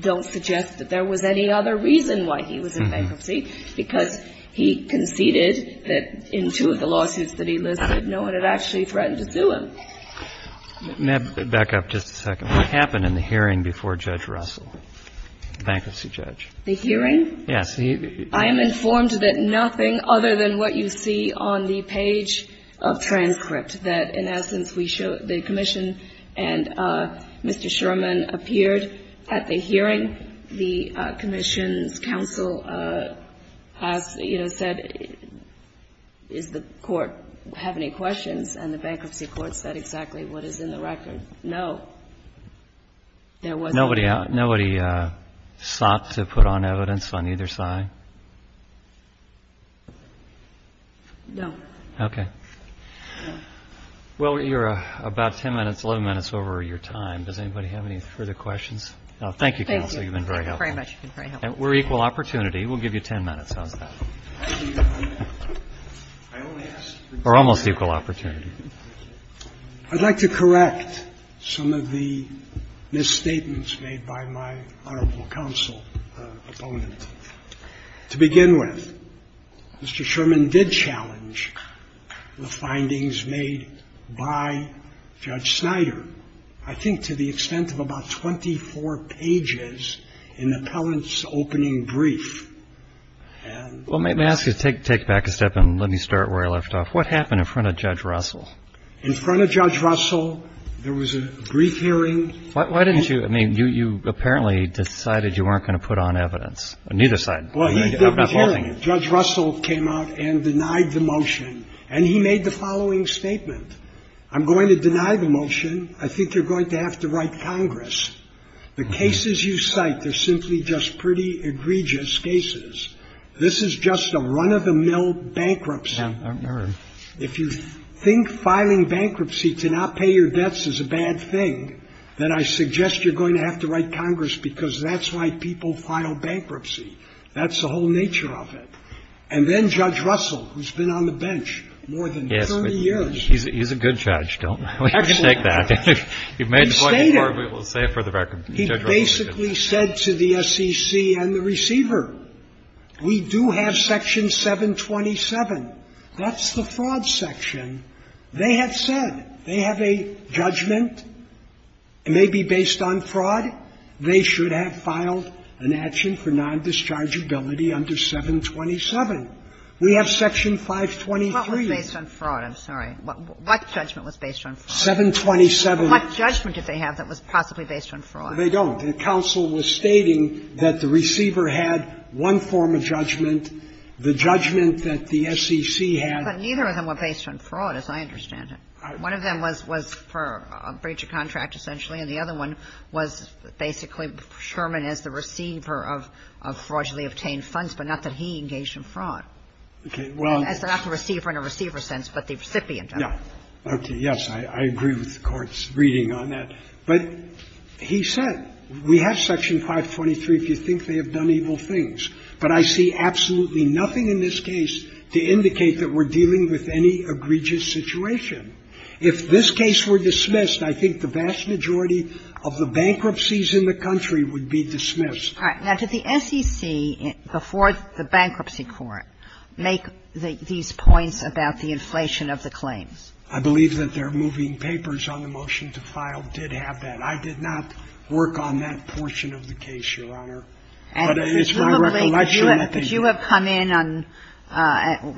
don't suggest that there was any other reason why he was in bankruptcy, because he conceded that in two of the lawsuits that he listed, no one had actually threatened to sue him. May I back up just a second? What happened in the hearing before Judge Russell, the bankruptcy judge? The hearing? Yes. I am informed that nothing other than what you see on the page of transcript, that in essence we show the commission and Mr. Sherman appeared at the hearing. The commission's counsel has, you know, said, does the court have any questions? And the bankruptcy court said exactly what is in the record. No, there wasn't. Nobody sought to put on evidence on either side? No. Okay. Well, you're about 10 minutes, 11 minutes over your time. Does anybody have any further questions? Thank you, counsel. You've been very helpful. Thank you very much. You've been very helpful. We're equal opportunity. We'll give you 10 minutes. How's that? We're almost equal opportunity. I'd like to correct some of the misstatements made by my honorable counsel opponent. To begin with, Mr. Sherman did challenge the findings made by Judge Snyder, I think to the extent of about 24 pages in the appellant's opening brief. Well, may I ask you to take back a step and let me start where I left off. What happened in front of Judge Russell? In front of Judge Russell, there was a brief hearing. Why didn't you – I mean, you apparently decided you weren't going to put on evidence on either side. Well, he did the hearing. Judge Russell came out and denied the motion. And he made the following statement. I'm going to deny the motion. I think you're going to have to write Congress. The cases you cite, they're simply just pretty egregious cases. This is just a run-of-the-mill bankruptcy. If you think filing bankruptcy to not pay your debts is a bad thing, then I suggest you're going to have to write Congress because that's why people file bankruptcy. That's the whole nature of it. And then Judge Russell, who's been on the bench more than 30 years. Yes, but he's a good judge. We have to take that. He basically said to the SEC and the receiver, we do have Section 727. That's the fraud section. They have said, they have a judgment. It may be based on fraud. They should have filed an action for non-dischargeability under 727. We have Section 523. Well, it's based on fraud. I'm sorry. What judgment was based on fraud? 727. What judgment did they have that was possibly based on fraud? They don't. The counsel was stating that the receiver had one form of judgment, the judgment that the SEC had. But neither of them were based on fraud, as I understand it. One of them was for a breach of contract, essentially, and the other one was basically Sherman as the receiver of fraudulently obtained funds, but not that he engaged in fraud. Okay. Well, that's not the receiver in a receiver sense, but the recipient. No. Okay. Yes, I agree with the Court's reading on that. But he said, we have Section 523 if you think they have done evil things. But I see absolutely nothing in this case to indicate that we're dealing with any egregious situation. If this case were dismissed, I think the vast majority of the bankruptcies in the country would be dismissed. All right. Now, did the SEC, before the Bankruptcy Court, make these points about the inflation of the claims? I believe that their moving papers on the motion to file did have that. I did not work on that portion of the case, Your Honor. But it's my recollection that they did. Could you have come in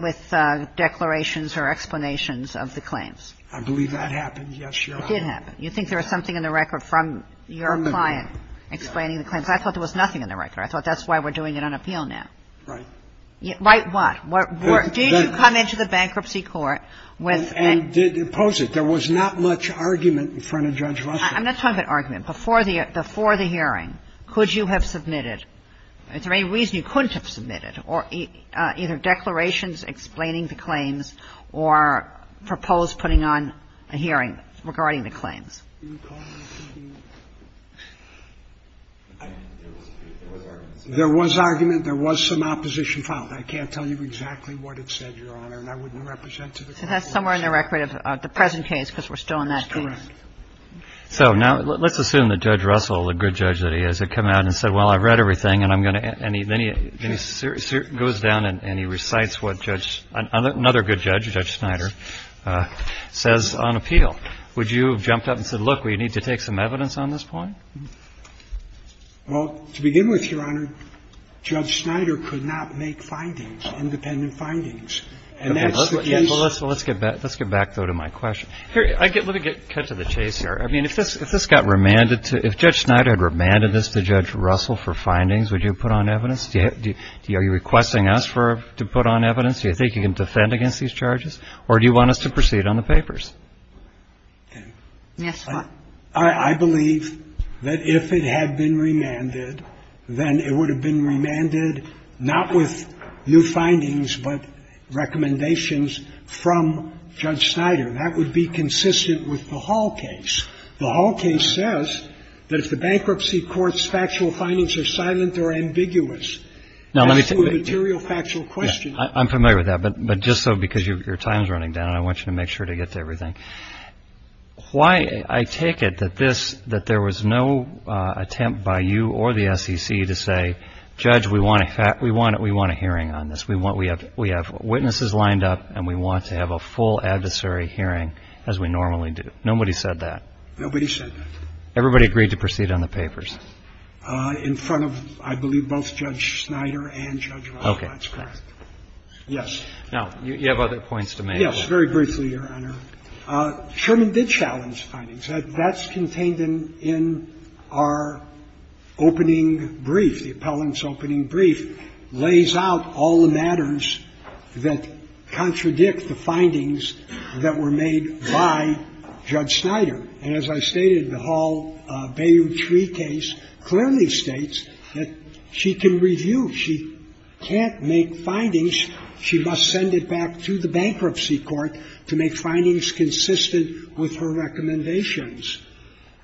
with declarations or explanations of the claims? I believe that happened, yes, Your Honor. It did happen. You think there was something in the record from your client explaining the claims? I thought there was nothing in the record. I thought that's why we're doing it on appeal now. Right. Right what? Did you come into the Bankruptcy Court with an ---- And did impose it. There was not much argument in front of Judge Russell. I'm not talking about argument. Before the hearing, could you have submitted? Is there any reason you couldn't have submitted? Either declarations explaining the claims or proposed putting on a hearing regarding the claims? There was argument. There was some opposition filed. I can't tell you exactly what it said, Your Honor, and I wouldn't represent to the court. So that's somewhere in the record of the present case because we're still in that case. That's correct. So now let's assume that Judge Russell, the good judge that he is, had come out and said, well, I've read everything, and I'm going to ---- and he goes down and he recites what Judge ---- another good judge, Judge Snyder, says on appeal. Would you have jumped up and said, look, we need to take some evidence on this point? Well, to begin with, Your Honor, Judge Snyder could not make findings, independent findings. And that's the case ---- Okay. Well, let's get back, though, to my question. Let me get cut to the chase here. I mean, if this got remanded to ---- if Judge Snyder had remanded this to Judge Russell for findings, would you have put on evidence? Are you requesting us to put on evidence? Do you think you can defend against these charges? Or do you want us to proceed on the papers? Yes, Your Honor. I believe that if it had been remanded, then it would have been remanded not with new findings but recommendations from Judge Snyder. That would be consistent with the Hall case. The Hall case says that if the bankruptcy court's factual findings are silent or ambiguous, as to the material factual question ---- I'm familiar with that. But just so, because your time is running down, I want you to make sure to get to everything. Why I take it that this ---- that there was no attempt by you or the SEC to say, Judge, we want a hearing on this. We have witnesses lined up, and we want to have a full adversary hearing as we normally do. Nobody said that. Nobody said that. Everybody agreed to proceed on the papers. In front of, I believe, both Judge Snyder and Judge Russell. That's correct. Okay. Yes. Now, you have other points to make. Yes. Very briefly, Your Honor. Sherman did challenge findings. That's contained in our opening brief, the appellant's opening brief. It lays out all the matters that contradict the findings that were made by Judge Snyder. And as I stated, the Hall-Bayou tree case clearly states that she can review. She can't make findings. She must send it back to the bankruptcy court to make findings consistent with her recommendations.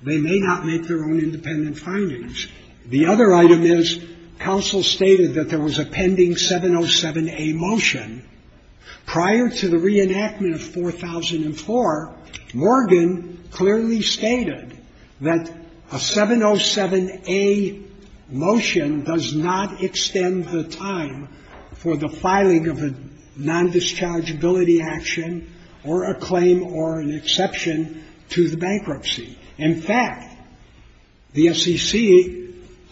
They may not make their own independent findings. The other item is counsel stated that there was a pending 707A motion. Prior to the reenactment of 4004, Morgan clearly stated that a 707A motion does not extend the time for the filing of a nondischargeability action or a claim or an exception to the bankruptcy. In fact, the SEC,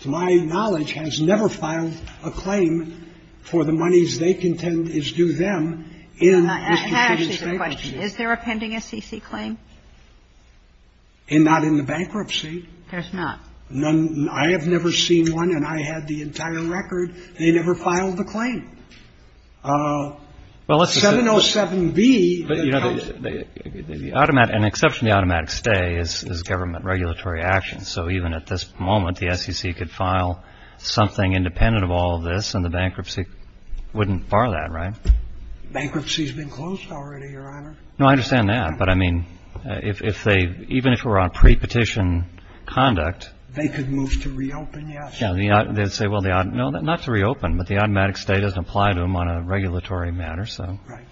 to my knowledge, has never filed a claim for the monies they contend is due them in Mr. Fitton's bankruptcy. I have a question. Is there a pending SEC claim? And not in the bankruptcy. There's not. None. I have never seen one, and I had the entire record. They never filed a claim. 707B. But, you know, an exception to the automatic stay is government regulatory action. So even at this moment, the SEC could file something independent of all of this, and the bankruptcy wouldn't bar that, right? Bankruptcy has been closed already, Your Honor. No, I understand that. But, I mean, if they, even if we're on pre-petition conduct. They could move to reopen, yes. They would say, well, not to reopen, but the automatic stay doesn't apply to them on a regulatory matter, so. Right.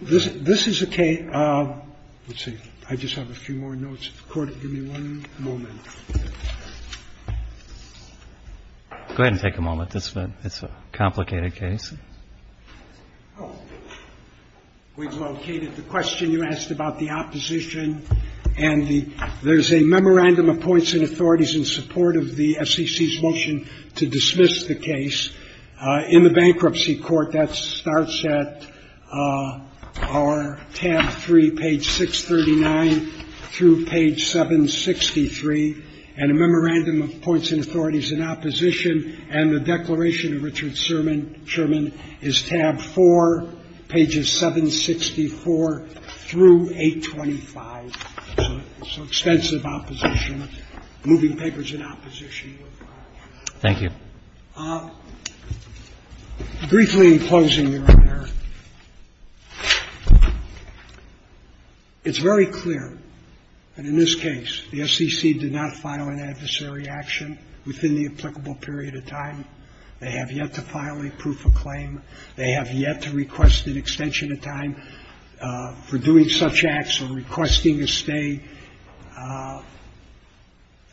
This is a case. Let's see. I just have a few more notes. Court, give me one moment. Go ahead and take a moment. It's a complicated case. We've located the question you asked about the opposition, and there's a memorandum of points and authorities in support of the SEC's motion to dismiss the case. In the bankruptcy court, that starts at our tab 3, page 639 through page 763, and a memorandum of points and authorities in opposition, and the declaration of Richard Sherman is tab 4, pages 764 through 825. So extensive opposition, moving papers in opposition. Thank you. Briefly, in closing, Your Honor, it's very clear that in this case, the SEC did not file an adversary action within the applicable period of time. They have yet to file a proof of claim. They have yet to request an extension of time for doing such acts or requesting a stay.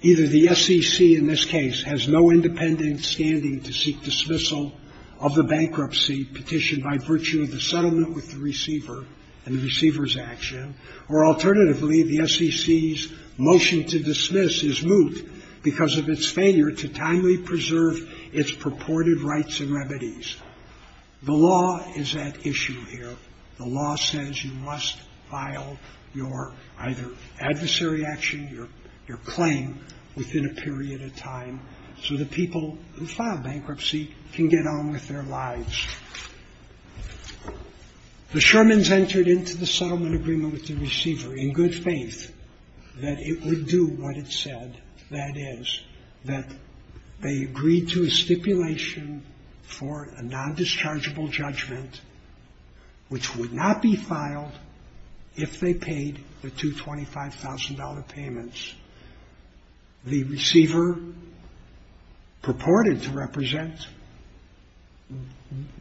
Either the SEC in this case has no independent standing to seek dismissal of the bankruptcy petitioned by virtue of the settlement with the receiver and the receiver's action, or alternatively, the SEC's motion to dismiss is moot because of its failure to timely preserve its purported rights and remedies. The law is at issue here. The law says you must file your either adversary action, your claim within a period of time so the people who filed bankruptcy can get on with their lives. The Shermans entered into the settlement agreement with the receiver in good faith that it would do what it said, that is, that they agreed to a stipulation for a nondischargeable judgment, which would not be filed if they paid the two $25,000 payments. The receiver purported to represent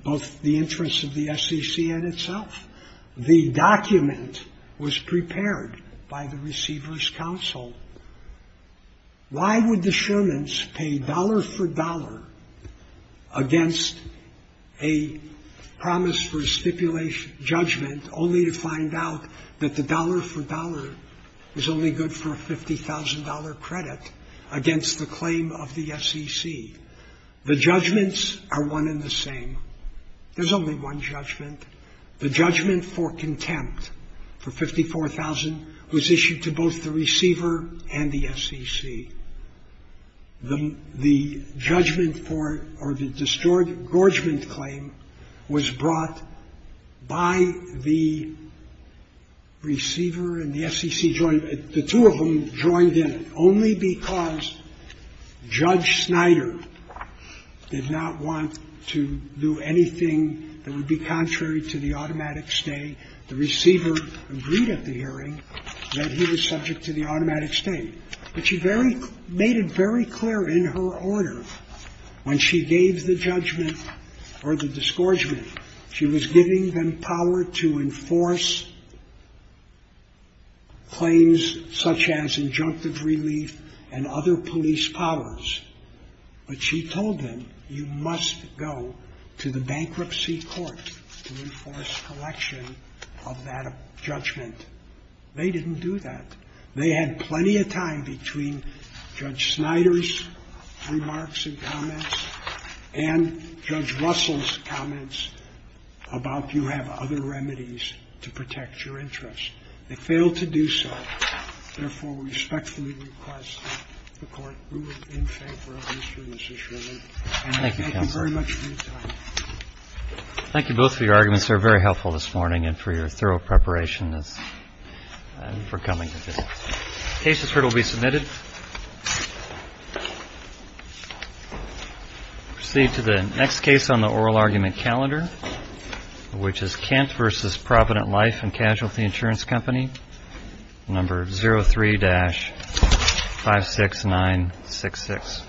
both the interests of the SEC and itself. The document was prepared by the receiver's counsel. Why would the Shermans pay dollar for dollar against a promise for a stipulation judgment only to find out that the dollar for dollar is only good for a $50,000 credit against the claim of the SEC? The judgments are one and the same. There's only one judgment. The judgment for contempt for $54,000 was issued to both the receiver and the SEC. The judgment for or the distorted gorgement claim was brought by the receiver and the SEC. The two of them joined in only because Judge Snyder did not want to do anything that would be contrary to the automatic stay. The receiver agreed at the hearing that he was subject to the automatic stay, but she made it very clear in her order when she gave the judgment or the disgorgement, she was giving them power to enforce claims such as injunctive relief and other police powers. But she told them, you must go to the bankruptcy court to enforce collection of that judgment. They didn't do that. They had plenty of time between Judge Snyder's remarks and comments and Judge Russell's comments about you have other remedies to protect your interest. They failed to do so. Therefore, we respectfully request that the Court rule in favor of these two decisions. Thank you very much for your time. Roberts. Thank you both for your arguments. These are very helpful this morning and for your thorough preparation for coming. Cases heard will be submitted. Proceed to the next case on the oral argument calendar, which is Kemp versus Provident Life and Casualty Insurance Company, number 03-56966.